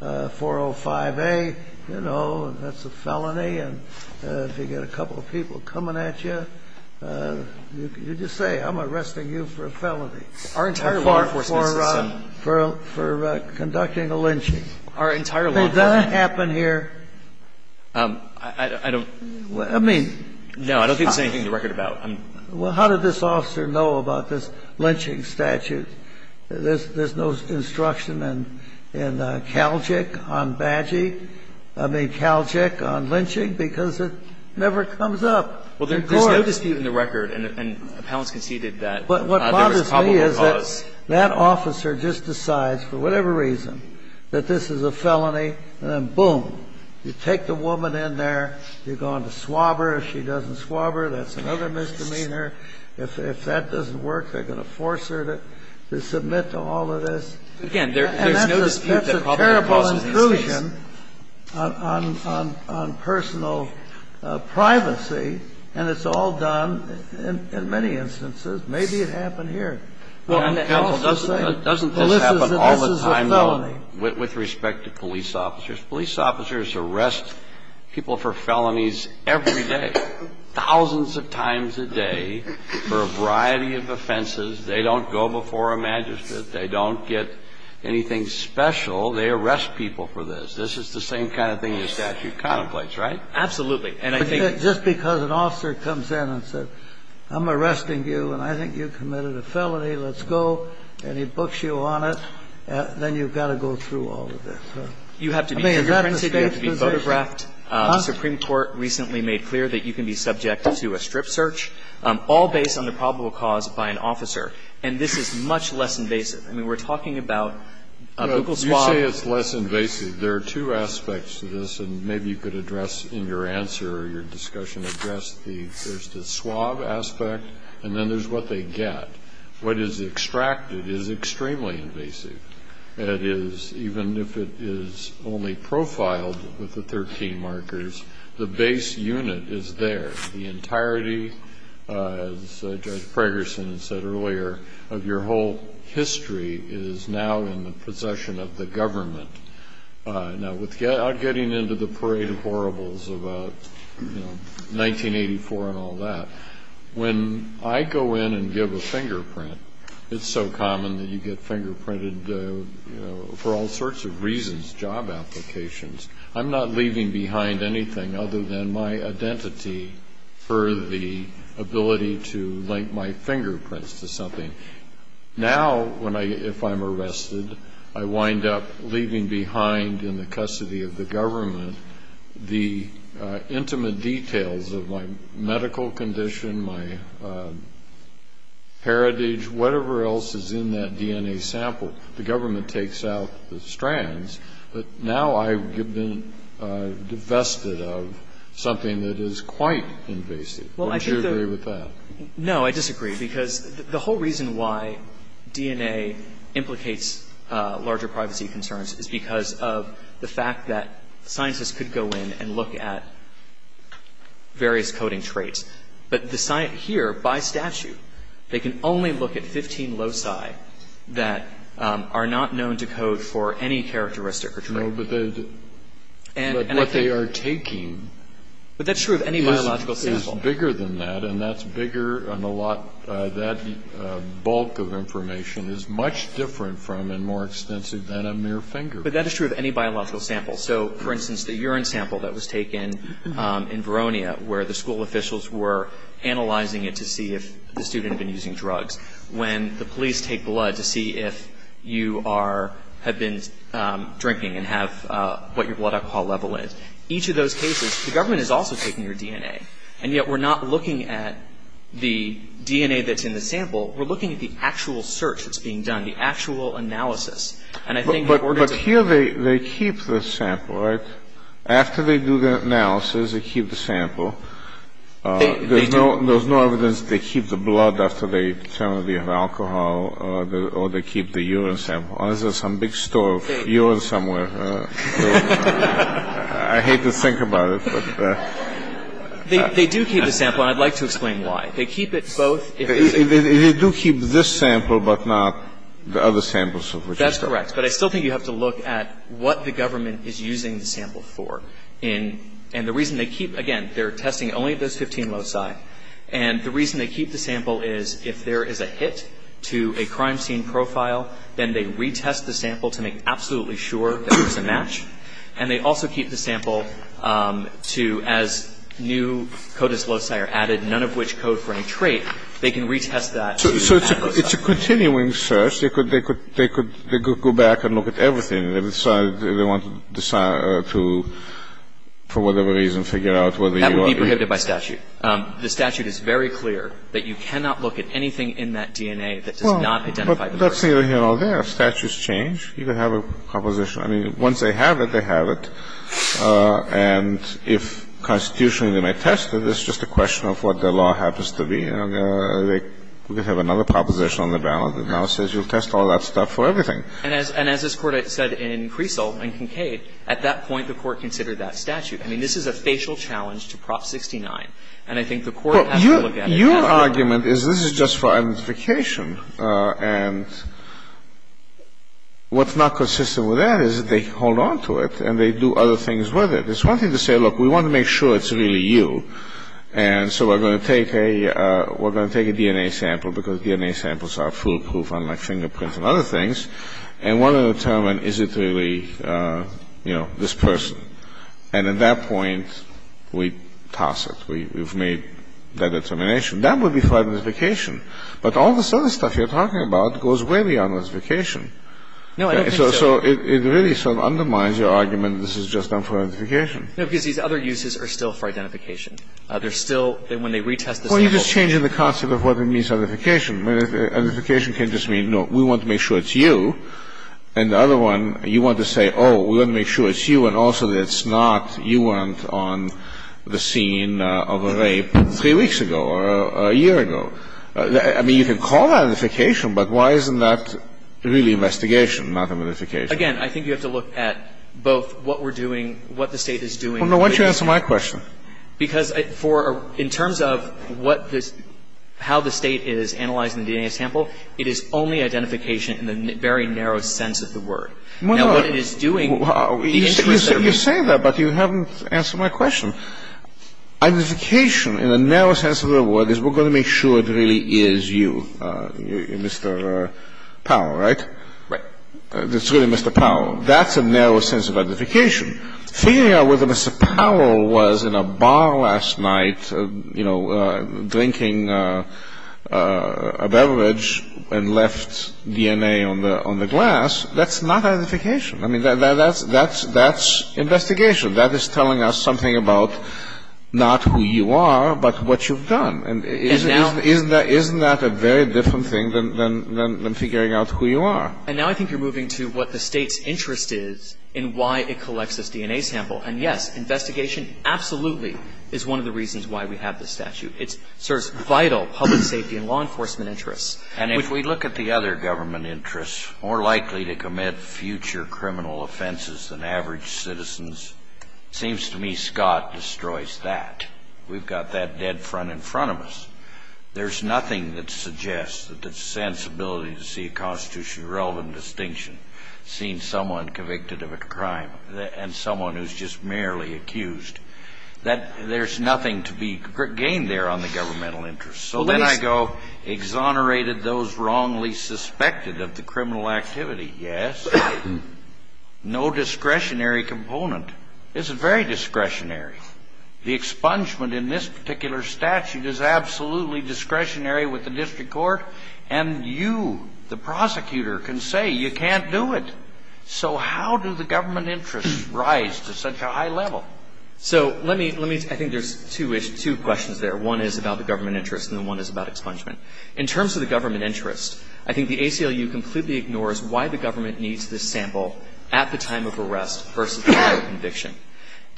405A, you know, and that's a felony. And if you get a couple of people coming at you, you just say I'm arresting you for a felony. Our entire law enforcement system. For conducting a lynching. Our entire law enforcement system. Did that happen here? I don't. I mean. No, I don't think there's anything to record about. Well, how did this officer know about this lynching statute? There's no instruction in Calgic on badging. I mean, Calgic on lynching, because it never comes up. Well, there's no dispute in the record. And appellants conceded that there was probable cause. But what bothers me is that that officer just decides for whatever reason that this is a felony. And then, boom, you take the woman in there. You're going to swab her. She doesn't swab her. That's another misdemeanor. If that doesn't work, they're going to force her to submit to all of this. And that's a terrible intrusion on personal privacy. And it's all done in many instances. Maybe it happened here. Well, counsel, doesn't this happen all the time, though, with respect to police officers? Police officers arrest people for felonies every day. Thousands of times a day for a variety of offenses. They don't go before a magistrate. They don't get anything special. They arrest people for this. This is the same kind of thing the statute contemplates, right? Absolutely. And I think that's just because an officer comes in and says, I'm arresting you, and I think you committed a felony. Let's go. And he books you on it. You have to be fingerprinted. You have to be photographed. The Supreme Court recently made clear that you can be subject to a strip search, all based on the probable cause by an officer. And this is much less invasive. I mean, we're talking about Google swab. You say it's less invasive. There are two aspects to this, and maybe you could address in your answer or your discussion, address the swab aspect, and then there's what they get. What is extracted is extremely invasive. That is, even if it is only profiled with the 13 markers, the base unit is there. The entirety, as Judge Fragerson said earlier, of your whole history is now in the possession of the government. Now, with getting into the parade of horribles about 1984 and all that, when I go in and give a fingerprint, it's so common that you get fingerprinted for all sorts of reasons, job applications. I'm not leaving behind anything other than my identity for the ability to link my fingerprints to something. Now, if I'm arrested, I wind up leaving behind in the custody of the government the intimate details of my medical condition, my heritage, whatever else is in that DNA sample. The government takes out the strands, but now I've been divested of something that is quite invasive. Would you agree with that? No, I disagree, because the whole reason why DNA implicates larger privacy concerns is because of the fact that scientists could go in and look at various coding traits. But the science here, by statute, they can only look at 15 loci that are not known to code for any characteristic or trait. No, but what they are taking is bigger than that, and that's bigger and a lot, that bulk of information is much different from and more extensive than a mere fingerprint. But that is true of any biological sample. So, for instance, the urine sample that was taken in Veronia, where the school officials were analyzing it to see if the student had been using drugs, when the police take blood to see if you are, have been drinking and have what your blood alcohol level is, each of those cases, the government is also taking your DNA. And yet we're not looking at the DNA that's in the sample. We're looking at the actual search that's being done, the actual analysis. And I think in order to But here they keep the sample, right? After they do the analysis, they keep the sample. They do. There's no evidence they keep the blood after they determine that they have alcohol or they keep the urine sample. Unless there's some big store of urine somewhere. I hate to think about it, but They do keep the sample. And I'd like to explain why. They keep it both. They do keep this sample, but not the other samples. That's correct. But I still think you have to look at what the government is using the sample for. And the reason they keep, again, they're testing only those 15 loci. And the reason they keep the sample is if there is a hit to a crime scene profile, then they retest the sample to make absolutely sure that there's a match. And they also keep the sample to, as new codas loci are added, none of which code for any trait, they can retest that. So it's a continuing search. They could go back and look at everything. They want to decide to, for whatever reason, figure out whether you are That would be prohibited by statute. The statute is very clear that you cannot look at anything in that DNA that does not identify the murder. Well, that's neither here nor there. Statues change. You could have a composition. I mean, once they have it, they have it. And if constitutionally they may test it, it's just a question of what the law happens to be. You know, they could have another proposition on the ballot that now says you'll test all that stuff for everything. And as this Court said in Creasle and Kincaid, at that point the Court considered that statute. I mean, this is a facial challenge to Prop 69. And I think the Court has to look at it. Well, your argument is this is just for identification. And what's not consistent with that is they hold on to it and they do other things with it. It's one thing to say, look, we want to make sure it's really you. And so we're going to take a DNA sample because DNA samples are foolproof, unlike fingerprints and other things, and want to determine is it really, you know, this person. And at that point, we toss it. We've made that determination. That would be for identification. But all this other stuff you're talking about goes way beyond identification. No, I don't think so. So it really sort of undermines your argument this is just done for identification. No, because these other uses are still for identification. They're still, when they retest this sample. Well, you're just changing the concept of what it means, identification. Identification can just mean, no, we want to make sure it's you. And the other one, you want to say, oh, we're going to make sure it's you, and also that it's not you weren't on the scene of a rape three weeks ago or a year ago. I mean, you can call that identification, but why isn't that really investigation, not identification? Again, I think you have to look at both what we're doing, what the State is doing. Well, no, why don't you answer my question? Because for, in terms of what this, how the State is analyzing the DNA sample, it is only identification in the very narrow sense of the word. Now, what it is doing, the interest of the State. You say that, but you haven't answered my question. Identification in the narrow sense of the word is we're going to make sure it really is you, Mr. Powell, right? Right. It's really Mr. Powell. That's a narrow sense of identification. Figuring out whether Mr. Powell was in a bar last night, you know, drinking a beverage and left DNA on the glass, that's not identification. I mean, that's investigation. That is telling us something about not who you are, but what you've done. And isn't that a very different thing than figuring out who you are? And now I think you're moving to what the State's interest is in why it collects this DNA sample. And yes, investigation absolutely is one of the reasons why we have this statute. It serves vital public safety and law enforcement interests. And if we look at the other government interests, more likely to commit future criminal offenses than average citizens, it seems to me Scott destroys that. We've got that dead front in front of us. There's nothing that suggests that the sensibility to see a constitutionally relevant distinction, seeing someone convicted of a crime and someone who's just merely accused, that there's nothing to be gained there on the governmental interests. So then I go, exonerated those wrongly suspected of the criminal activity. Yes. No discretionary component. It's very discretionary. The expungement in this particular statute is absolutely discretionary with the district court. And you, the prosecutor, can say you can't do it. So how do the government interests rise to such a high level? So let me – I think there's two questions there. One is about the government interests and the one is about expungement. In terms of the government interests, I think the ACLU completely ignores why the government needs this sample at the time of arrest versus prior conviction.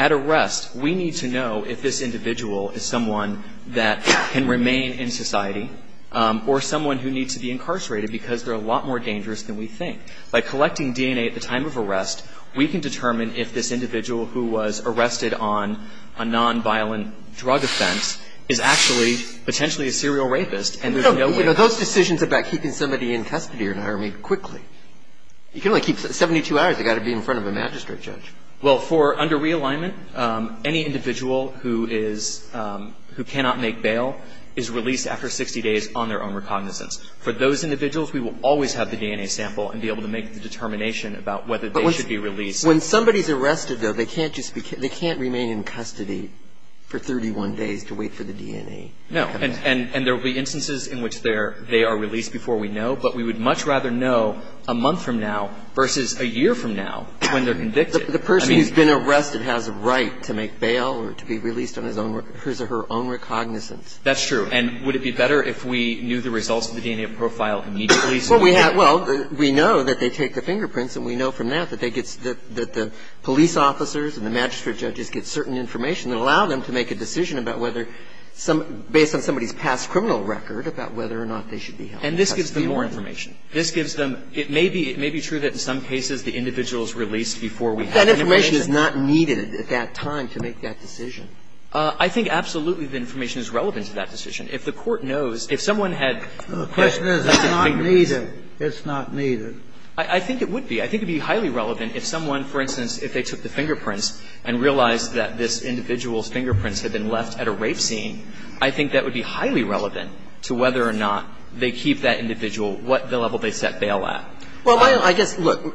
At arrest, we need to know if this individual is someone that can remain in society or someone who needs to be incarcerated because they're a lot more dangerous than we think. By collecting DNA at the time of arrest, we can determine if this individual who was arrested on a nonviolent drug offense is actually potentially a serial rapist and there's no way. Those decisions about keeping somebody in custody or in an army quickly, you can only keep 72 hours. They've got to be in front of a magistrate judge. Well, for under realignment, any individual who is – who cannot make bail is released after 60 days on their own recognizance. For those individuals, we will always have the DNA sample and be able to make the determination about whether they should be released. When somebody's arrested, though, they can't just – they can't remain in custody for 31 days to wait for the DNA. No. And there will be instances in which they are released before we know, but we would much rather know a month from now versus a year from now when they're convicted. The person who's been arrested has a right to make bail or to be released on his own – his or her own recognizance. That's true. so we could – Well, we have – well, we know that they take the fingerprints, and we know from that that they get – that the police officers and the magistrate judges get certain information that allow them to make a decision about whether some – based on somebody's past criminal record about whether or not they should be held in custody or not. And this gives them more information. This gives them – it may be – it may be true that in some cases the individual is released before we have the information. But that information is not needed at that time to make that decision. I think absolutely the information is relevant to that decision. If the Court knows – if someone had – The question is it's not needed. It's not needed. I think it would be. I think it would be highly relevant if someone, for instance, if they took the fingerprints and realized that this individual's fingerprints had been left at a rape scene, I think that would be highly relevant to whether or not they keep that individual what the level they set bail at. Well, I guess, look,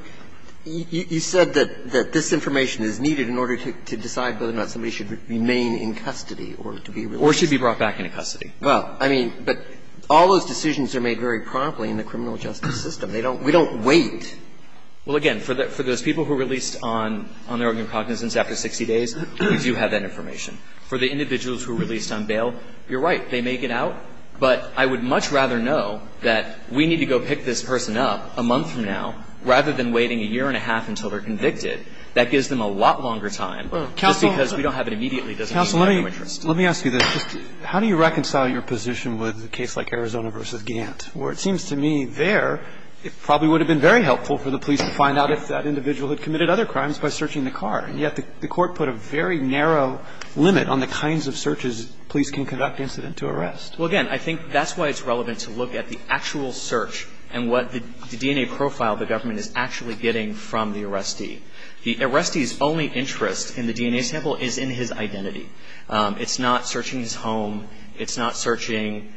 you said that this information is needed in order to decide whether or not somebody should remain in custody or to be released. Well, I mean, all those decisions are made very promptly in the criminal justice system. They don't – we don't wait. Well, again, for those people who are released on their own incognizance after 60 days, we do have that information. For the individuals who are released on bail, you're right. They may get out. But I would much rather know that we need to go pick this person up a month from now rather than waiting a year and a half until they're convicted. That gives them a lot longer time just because we don't have it immediately doesn't mean they have no interest. Let me ask you this. How do you reconcile your position with a case like Arizona v. Gant, where it seems to me there it probably would have been very helpful for the police to find out if that individual had committed other crimes by searching the car? And yet the Court put a very narrow limit on the kinds of searches police can conduct incident to arrest. Well, again, I think that's why it's relevant to look at the actual search and what the DNA profile the government is actually getting from the arrestee. The arrestee's only interest in the DNA sample is in his identity. It's not searching his home. It's not searching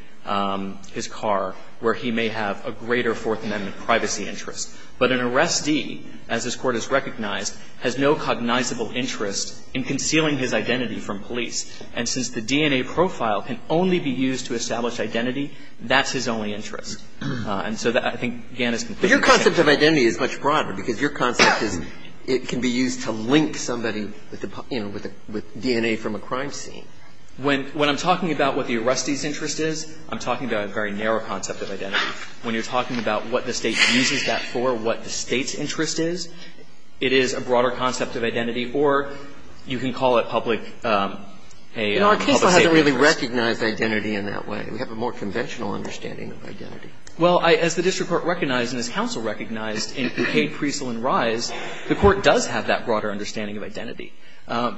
his car, where he may have a greater Fourth Amendment privacy interest. But an arrestee, as this Court has recognized, has no cognizable interest in concealing his identity from police. And since the DNA profile can only be used to establish identity, that's his only interest. And so I think Gant is completely right. But your concept of identity is much broader because your concept is it can be used to link somebody, you know, with DNA from a crime scene. When I'm talking about what the arrestee's interest is, I'm talking about a very narrow concept of identity. When you're talking about what the State uses that for, what the State's interest is, it is a broader concept of identity, or you can call it public, a public safety interest. You know, our case doesn't really recognize identity in that way. We have a more conventional understanding of identity. Well, as the district court recognized and as counsel recognized in Buccade, Creasle and Rise, the Court does have that broader understanding of identity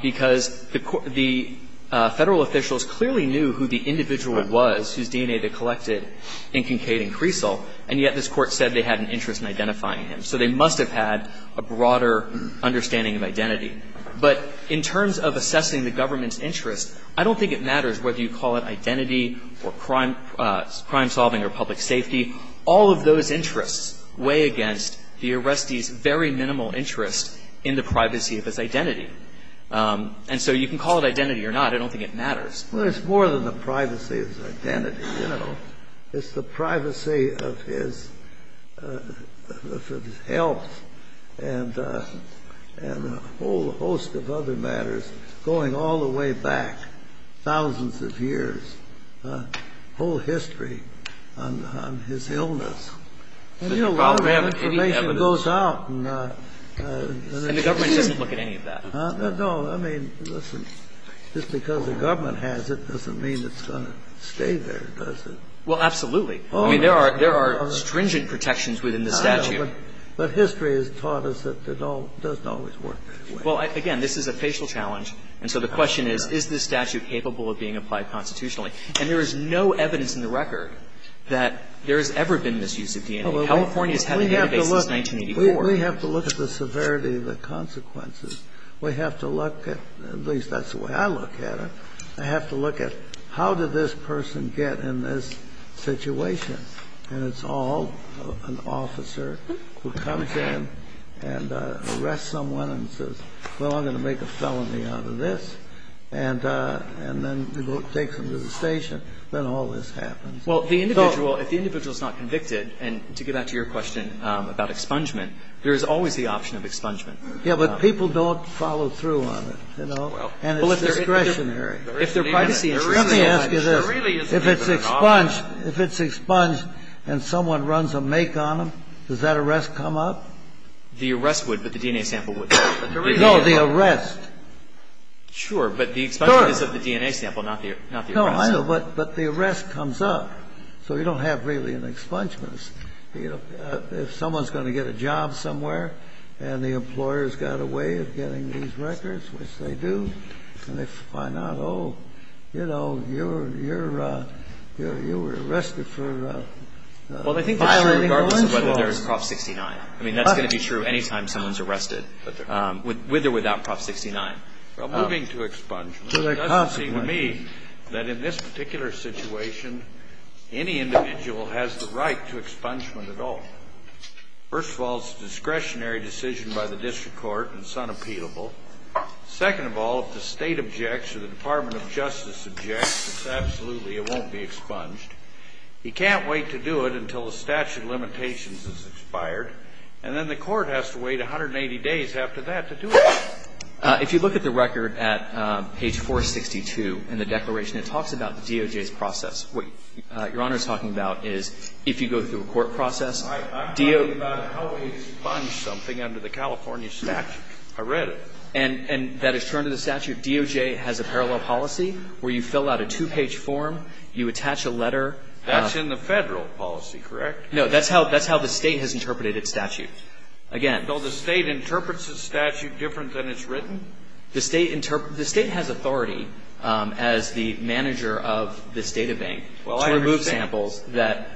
because the Federal officials clearly knew who the individual was whose DNA they collected in Kincaid and Creasle, and yet this Court said they had an interest in identifying him. So they must have had a broader understanding of identity. But in terms of assessing the government's interest, I don't think it matters whether you call it identity or crime solving or public safety. All of those interests weigh against the arrestee's very minimal interest in the privacy of his identity. And so you can call it identity or not. I don't think it matters. Well, it's more than the privacy of his identity, you know. It's the privacy of his health and a whole host of other matters going all the way back thousands of years, the whole history on his illness. And, you know, a lot of that information goes out. And the government doesn't look at any of that. No. I mean, listen, just because the government has it doesn't mean it's going to stay there, does it? Well, absolutely. I mean, there are stringent protections within the statute. But history has taught us that it doesn't always work that way. Well, again, this is a facial challenge. And so the question is, is this statute capable of being applied constitutionally? And there is no evidence in the record that there has ever been misuse of DNA. California has had a database since 1984. We have to look at the severity of the consequences. We have to look at at least that's the way I look at it. I have to look at how did this person get in this situation. And it's all an officer who comes in and arrests someone and says, well, I'm going to make a felony out of this. And then takes them to the station. Then all this happens. Well, the individual, if the individual is not convicted, and to get back to your question about expungement, there is always the option of expungement. Yeah, but people don't follow through on it, you know. And it's discretionary. If they're privacy interested. Let me ask you this. If it's expunged and someone runs a make on them, does that arrest come up? The arrest would, but the DNA sample wouldn't. No, the arrest. Sure, but the expungement is of the DNA sample, not the arrest. No, I know, but the arrest comes up. So you don't have really an expungement. If someone's going to get a job somewhere and the employer's got a way of getting these records, which they do, and they find out, oh, you know, you were arrested for violating the law. Well, I think that's true regardless of whether there's Prop 69. I mean, that's going to be true any time someone's arrested, with or without Prop 69. Well, moving to expungement, it doesn't seem to me that in this particular situation any individual has the right to expungement at all. First of all, it's a discretionary decision by the district court, and it's unappealable. Second of all, if the State objects or the Department of Justice objects, it's absolutely it won't be expunged. You can't wait to do it until the statute of limitations has expired, and then the court has to wait 180 days after that to do it. If you look at the record at page 462 in the declaration, it talks about the DOJ's process. What Your Honor is talking about is if you go through a court process, DOJ ---- I'm talking about how we expunge something under the California statute. I read it. And that is turned to the statute. DOJ has a parallel policy where you fill out a two-page form, you attach a letter. That's in the Federal policy, correct? No. That's how the State has interpreted its statute. Again. So the State interprets its statute different than it's written? The State has authority as the manager of this databank to remove samples that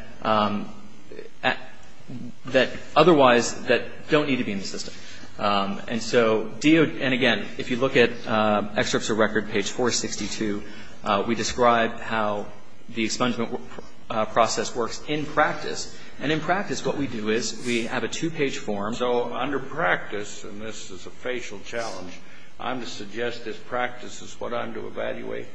otherwise don't need to be in the system. And so DOJ ---- and again, if you look at excerpts of record, page 462, we describe how the expungement process works in practice. And in practice, what we do is we have a two-page form. So under practice, and this is a facial challenge, I'm to suggest that practice is what I'm to evaluate.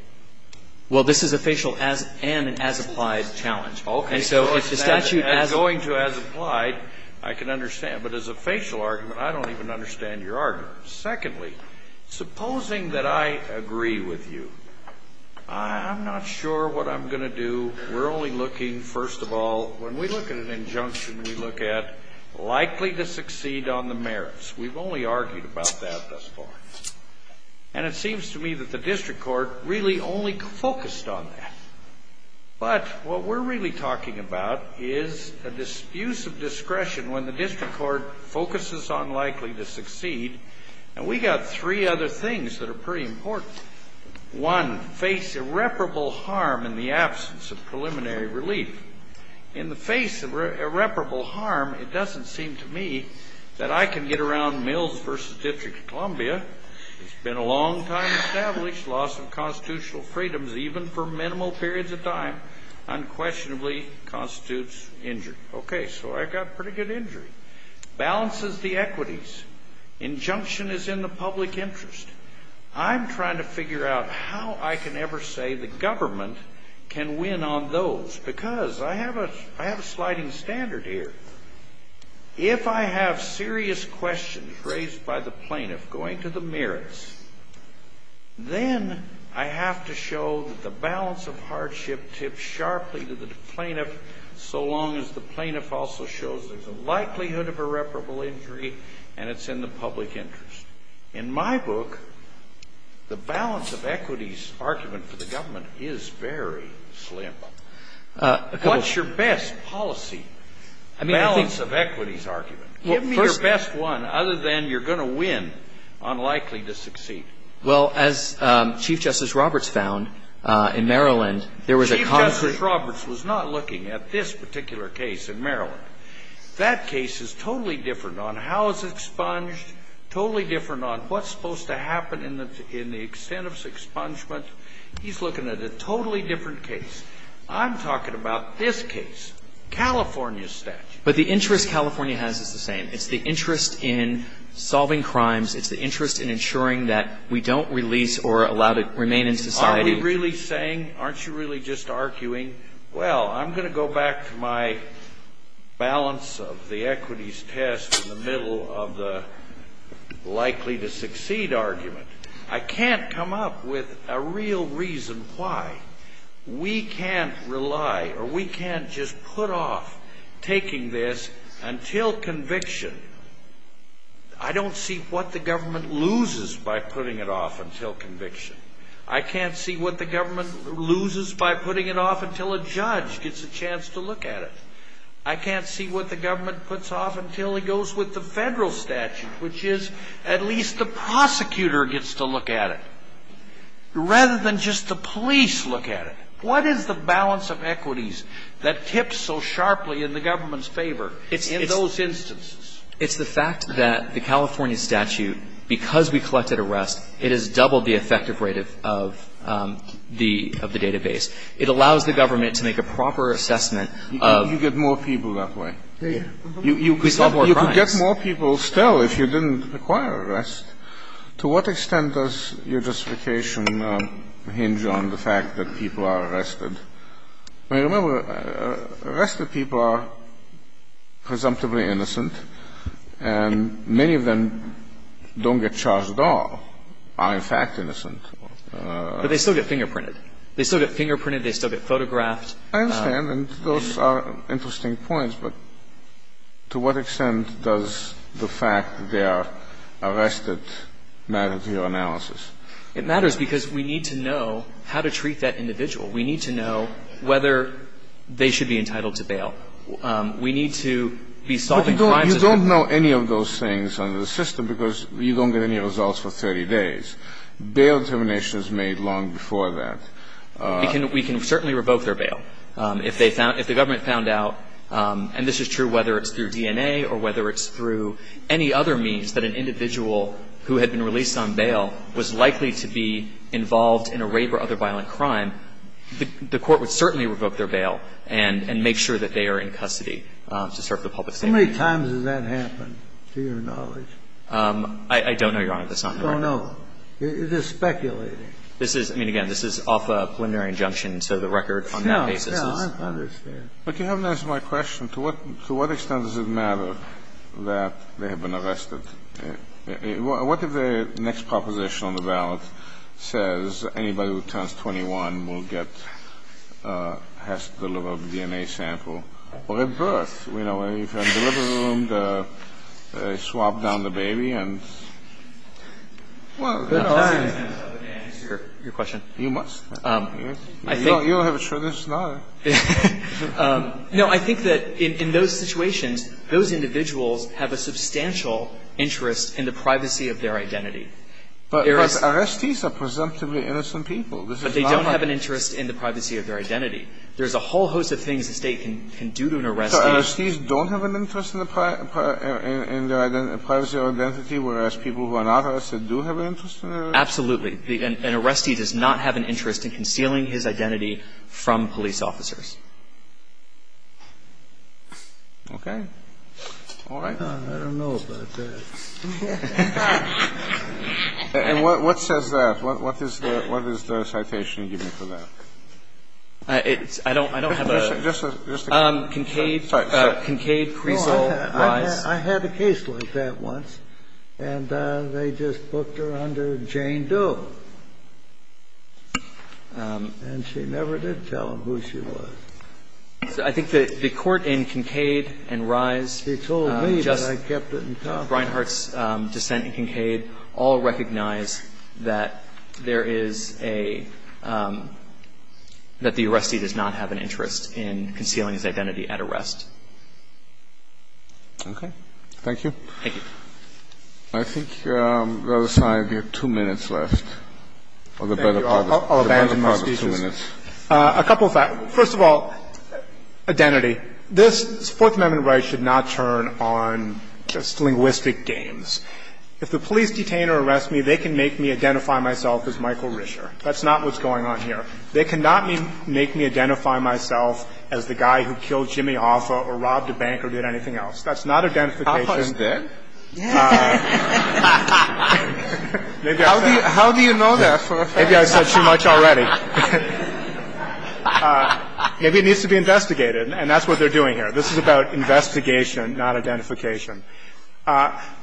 Well, this is a facial and an as-applied challenge. Okay. So if the statute has ---- And going to as-applied, I can understand. But as a facial argument, I don't even understand your argument. Secondly, supposing that I agree with you, I'm not sure what I'm going to do. We're only looking, first of all, when we look at an injunction, we look at likely to succeed on the merits. We've only argued about that thus far. And it seems to me that the district court really only focused on that. But what we're really talking about is a dispute of discretion when the district court focuses on likely to succeed. And we've got three other things that are pretty important. One, face irreparable harm in the absence of preliminary relief. In the face of irreparable harm, it doesn't seem to me that I can get around Mills v. District of Columbia. It's been a long time established loss of constitutional freedoms, even for minimal periods of time, unquestionably constitutes injury. Okay, so I've got pretty good injury. Balances the equities. Injunction is in the public interest. I'm trying to figure out how I can ever say the government can win on those, because I have a sliding standard here. If I have serious questions raised by the plaintiff going to the merits, then I have to show that the balance of hardship tips sharply to the plaintiff so long as the plaintiff also shows there's a likelihood of irreparable injury and it's in the public interest. In my book, the balance of equities argument for the government is very slim. What's your best policy balance of equities argument? Give me your best one other than you're going to win on likely to succeed. Well, as Chief Justice Roberts found in Maryland, there was a constant ---- Chief Justice Roberts was not looking at this particular case in Maryland. That case is totally different on how it's expunged, totally different on what's supposed to happen in the extent of expungement. He's looking at a totally different case. I'm talking about this case, California statute. But the interest California has is the same. It's the interest in solving crimes. It's the interest in ensuring that we don't release or allow to remain in society. Are we really saying? Aren't you really just arguing? Well, I'm going to go back to my balance of the equities test in the middle of the likely to succeed argument. I can't come up with a real reason why. We can't rely or we can't just put off taking this until conviction. I don't see what the government loses by putting it off until conviction. I can't see what the government loses by putting it off until a judge gets a chance to look at it. I can't see what the government puts off until it goes with the federal statute, which is at least the prosecutor gets to look at it rather than just the police look at it. What is the balance of equities that tips so sharply in the government's favor in those instances? It's the fact that the California statute, because we collected arrest, it has doubled the effective rate of the database. It allows the government to make a proper assessment of. You get more people that way. We solve more crimes. You could get more people still if you didn't require arrest. To what extent does your justification hinge on the fact that people are arrested? Remember, arrested people are presumptively innocent, and many of them don't get charged at all, are in fact innocent. But they still get fingerprinted. They still get fingerprinted. They still get photographed. I understand, and those are interesting points, but to what extent does the fact that they are arrested matter to your analysis? It matters because we need to know how to treat that individual. We need to know whether they should be entitled to bail. We need to be solving crimes. But you don't know any of those things under the system because you don't get any results for 30 days. Bail determination is made long before that. We can certainly revoke their bail if the government found out, and this is true whether it's through DNA or whether it's through any other means, that an individual who had been released on bail was likely to be involved in a rape or other violent crime, the court would certainly revoke their bail and make sure that they are in custody to serve the public safety. How many times has that happened, to your knowledge? I don't know, Your Honor. That's not in the record. Oh, no. It is speculating. This is – I mean, again, this is off a preliminary injunction, so the record on that basis is not. No, no, I understand. But you haven't answered my question. To what extent does it matter that they have been arrested? What if the next proposition on the ballot says anybody who turns 21 will get – has to deliver a DNA sample at birth? You know, if you're in the delivery room, they swap down the baby and, well, you know. I'm not saying it's necessary, but may I answer your question? You must. I think – You don't have a choice. It's not a – No, I think that in those situations, those individuals have a substantial interest in the privacy of their identity. Arrestees are presumptively innocent people. But they don't have an interest in the privacy of their identity. There's a whole host of things a State can do to an arrestee. So arrestees don't have an interest in their privacy or identity, whereas people who are not arrested do have an interest in their identity? Absolutely. An arrestee does not have an interest in concealing his identity from police officers. Okay. All right. I don't know about that. And what says that? What is the citation you give me for that? I don't have a – Just a – Kincaid – Sorry. Kincaid-Kreisel-Wise. I had a case like that once, and they just booked her under Jane Doe. And she never did tell him who she was. I think that the court in Kincaid and Rise just – He told me, but I kept it in confidence. Brinehart's dissent in Kincaid all recognize that there is a – that the arrestee does not have an interest in concealing his identity at arrest. Okay. Thank you. Thank you. I think, Rutherford, you have two minutes left. Thank you. I'll abandon my speeches. A couple of facts. First of all, identity. This Fourth Amendment right should not turn on just linguistic games. If the police detain or arrest me, they can make me identify myself as Michael Risher. That's not what's going on here. They cannot make me identify myself as the guy who killed Jimmy Offa or robbed a bank or did anything else. That's not identification. Offa is dead? How do you know that, Rutherford? Maybe I said too much already. Maybe it needs to be investigated, and that's what they're doing here. This is about investigation, not identification.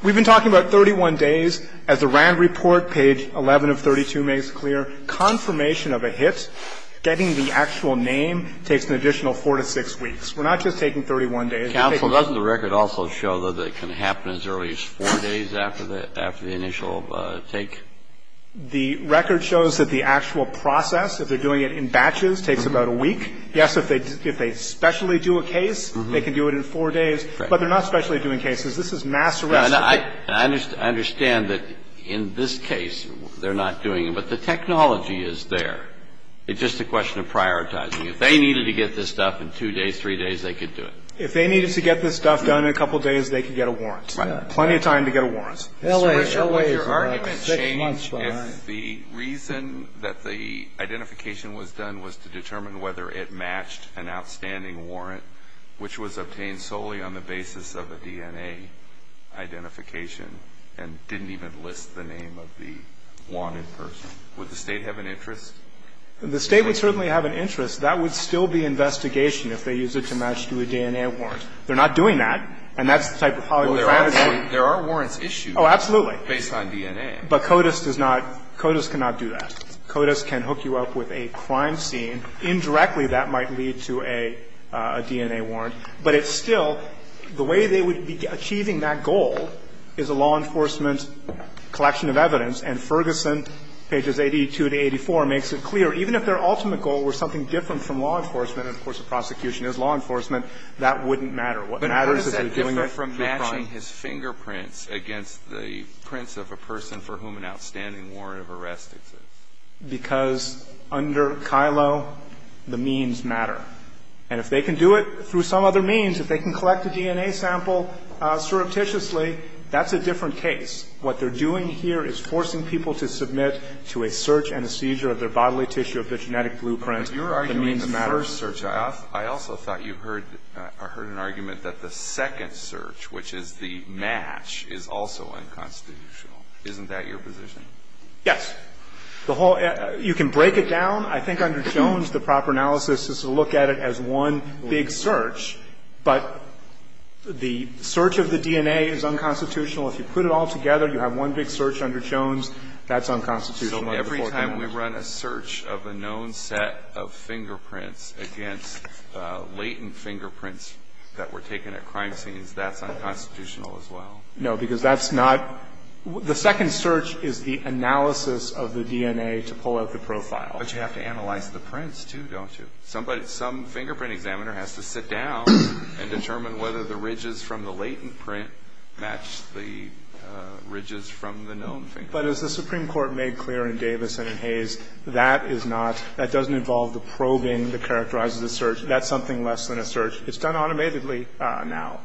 We've been talking about 31 days. As the RAND report, page 11 of 32, makes clear, confirmation of a hit, getting the actual name, takes an additional 4 to 6 weeks. We're not just taking 31 days. Counsel, doesn't the record also show that it can happen as early as 4 days after the initial take? The record shows that the actual process, if they're doing it in batches, takes about a week. Yes, if they specially do a case, they can do it in 4 days, but they're not specially doing cases. This is mass arrest. I understand that in this case, they're not doing it, but the technology is there. It's just a question of prioritizing. If they needed to get this stuff in 2 days, 3 days, they could do it. If they needed to get this stuff done in a couple of days, they could get a warrant. Right. Plenty of time to get a warrant. Your argument changed if the reason that the identification was done was to determine whether it matched an outstanding warrant, which was obtained solely on the basis of a DNA identification and didn't even list the name of the wanted person. Would the State have an interest? The State would certainly have an interest. That would still be investigation if they used it to match to a DNA warrant. They're not doing that. And that's the type of polygraph. Well, there are warrants issued. Oh, absolutely. Based on DNA. But CODIS does not, CODIS cannot do that. CODIS can hook you up with a crime scene. Indirectly, that might lead to a DNA warrant. But it's still, the way they would be achieving that goal is a law enforcement collection of evidence. And Ferguson, pages 82 to 84, makes it clear, even if their ultimate goal were something different from law enforcement, and, of course, the prosecution is law enforcement, that wouldn't matter. What matters is they're doing the crime. But Ferguson said different from matching his fingerprints against the prints of a person for whom an outstanding warrant of arrest exists. Because under Kilo, the means matter. And if they can do it through some other means, if they can collect a DNA sample surreptitiously, that's a different case. What they're doing here is forcing people to submit to a search and a seizure of their bodily tissue of their genetic blueprint. The means matters. Alito, I also thought you heard, I heard an argument that the second search, which is the match, is also unconstitutional. Isn't that your position? Yes. The whole, you can break it down. I think under Jones, the proper analysis is to look at it as one big search. But the search of the DNA is unconstitutional. If you put it all together, you have one big search under Jones. That's unconstitutional under the Fourth Amendment. So every time we run a search of a known set of fingerprints against latent fingerprints that were taken at crime scenes, that's unconstitutional as well? No, because that's not. The second search is the analysis of the DNA to pull out the profile. But you have to analyze the prints, too, don't you? Somebody, some fingerprint examiner has to sit down and determine whether the ridges from the latent print match the ridges from the known fingerprint. But as the Supreme Court made clear in Davis and in Hayes, that is not, that doesn't involve the probing that characterizes a search. That's something less than a search. It's done automatically now.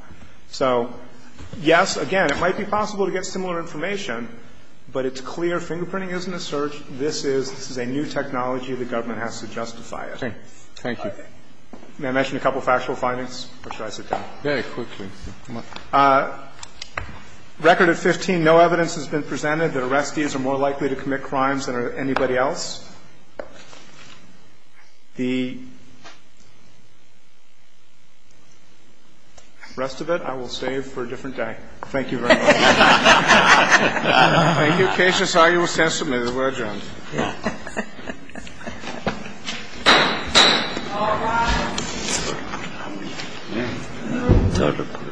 So, yes, again, it might be possible to get similar information, but it's clear fingerprinting isn't a search. This is a new technology. The government has to justify it. Thank you. May I mention a couple of factual findings? Or should I sit down? Very quickly. Record of 15, no evidence has been presented that arrestees are more likely to commit crimes than anybody else. The rest of it I will save for a different day. Thank you very much. Thank you. Court is adjourned.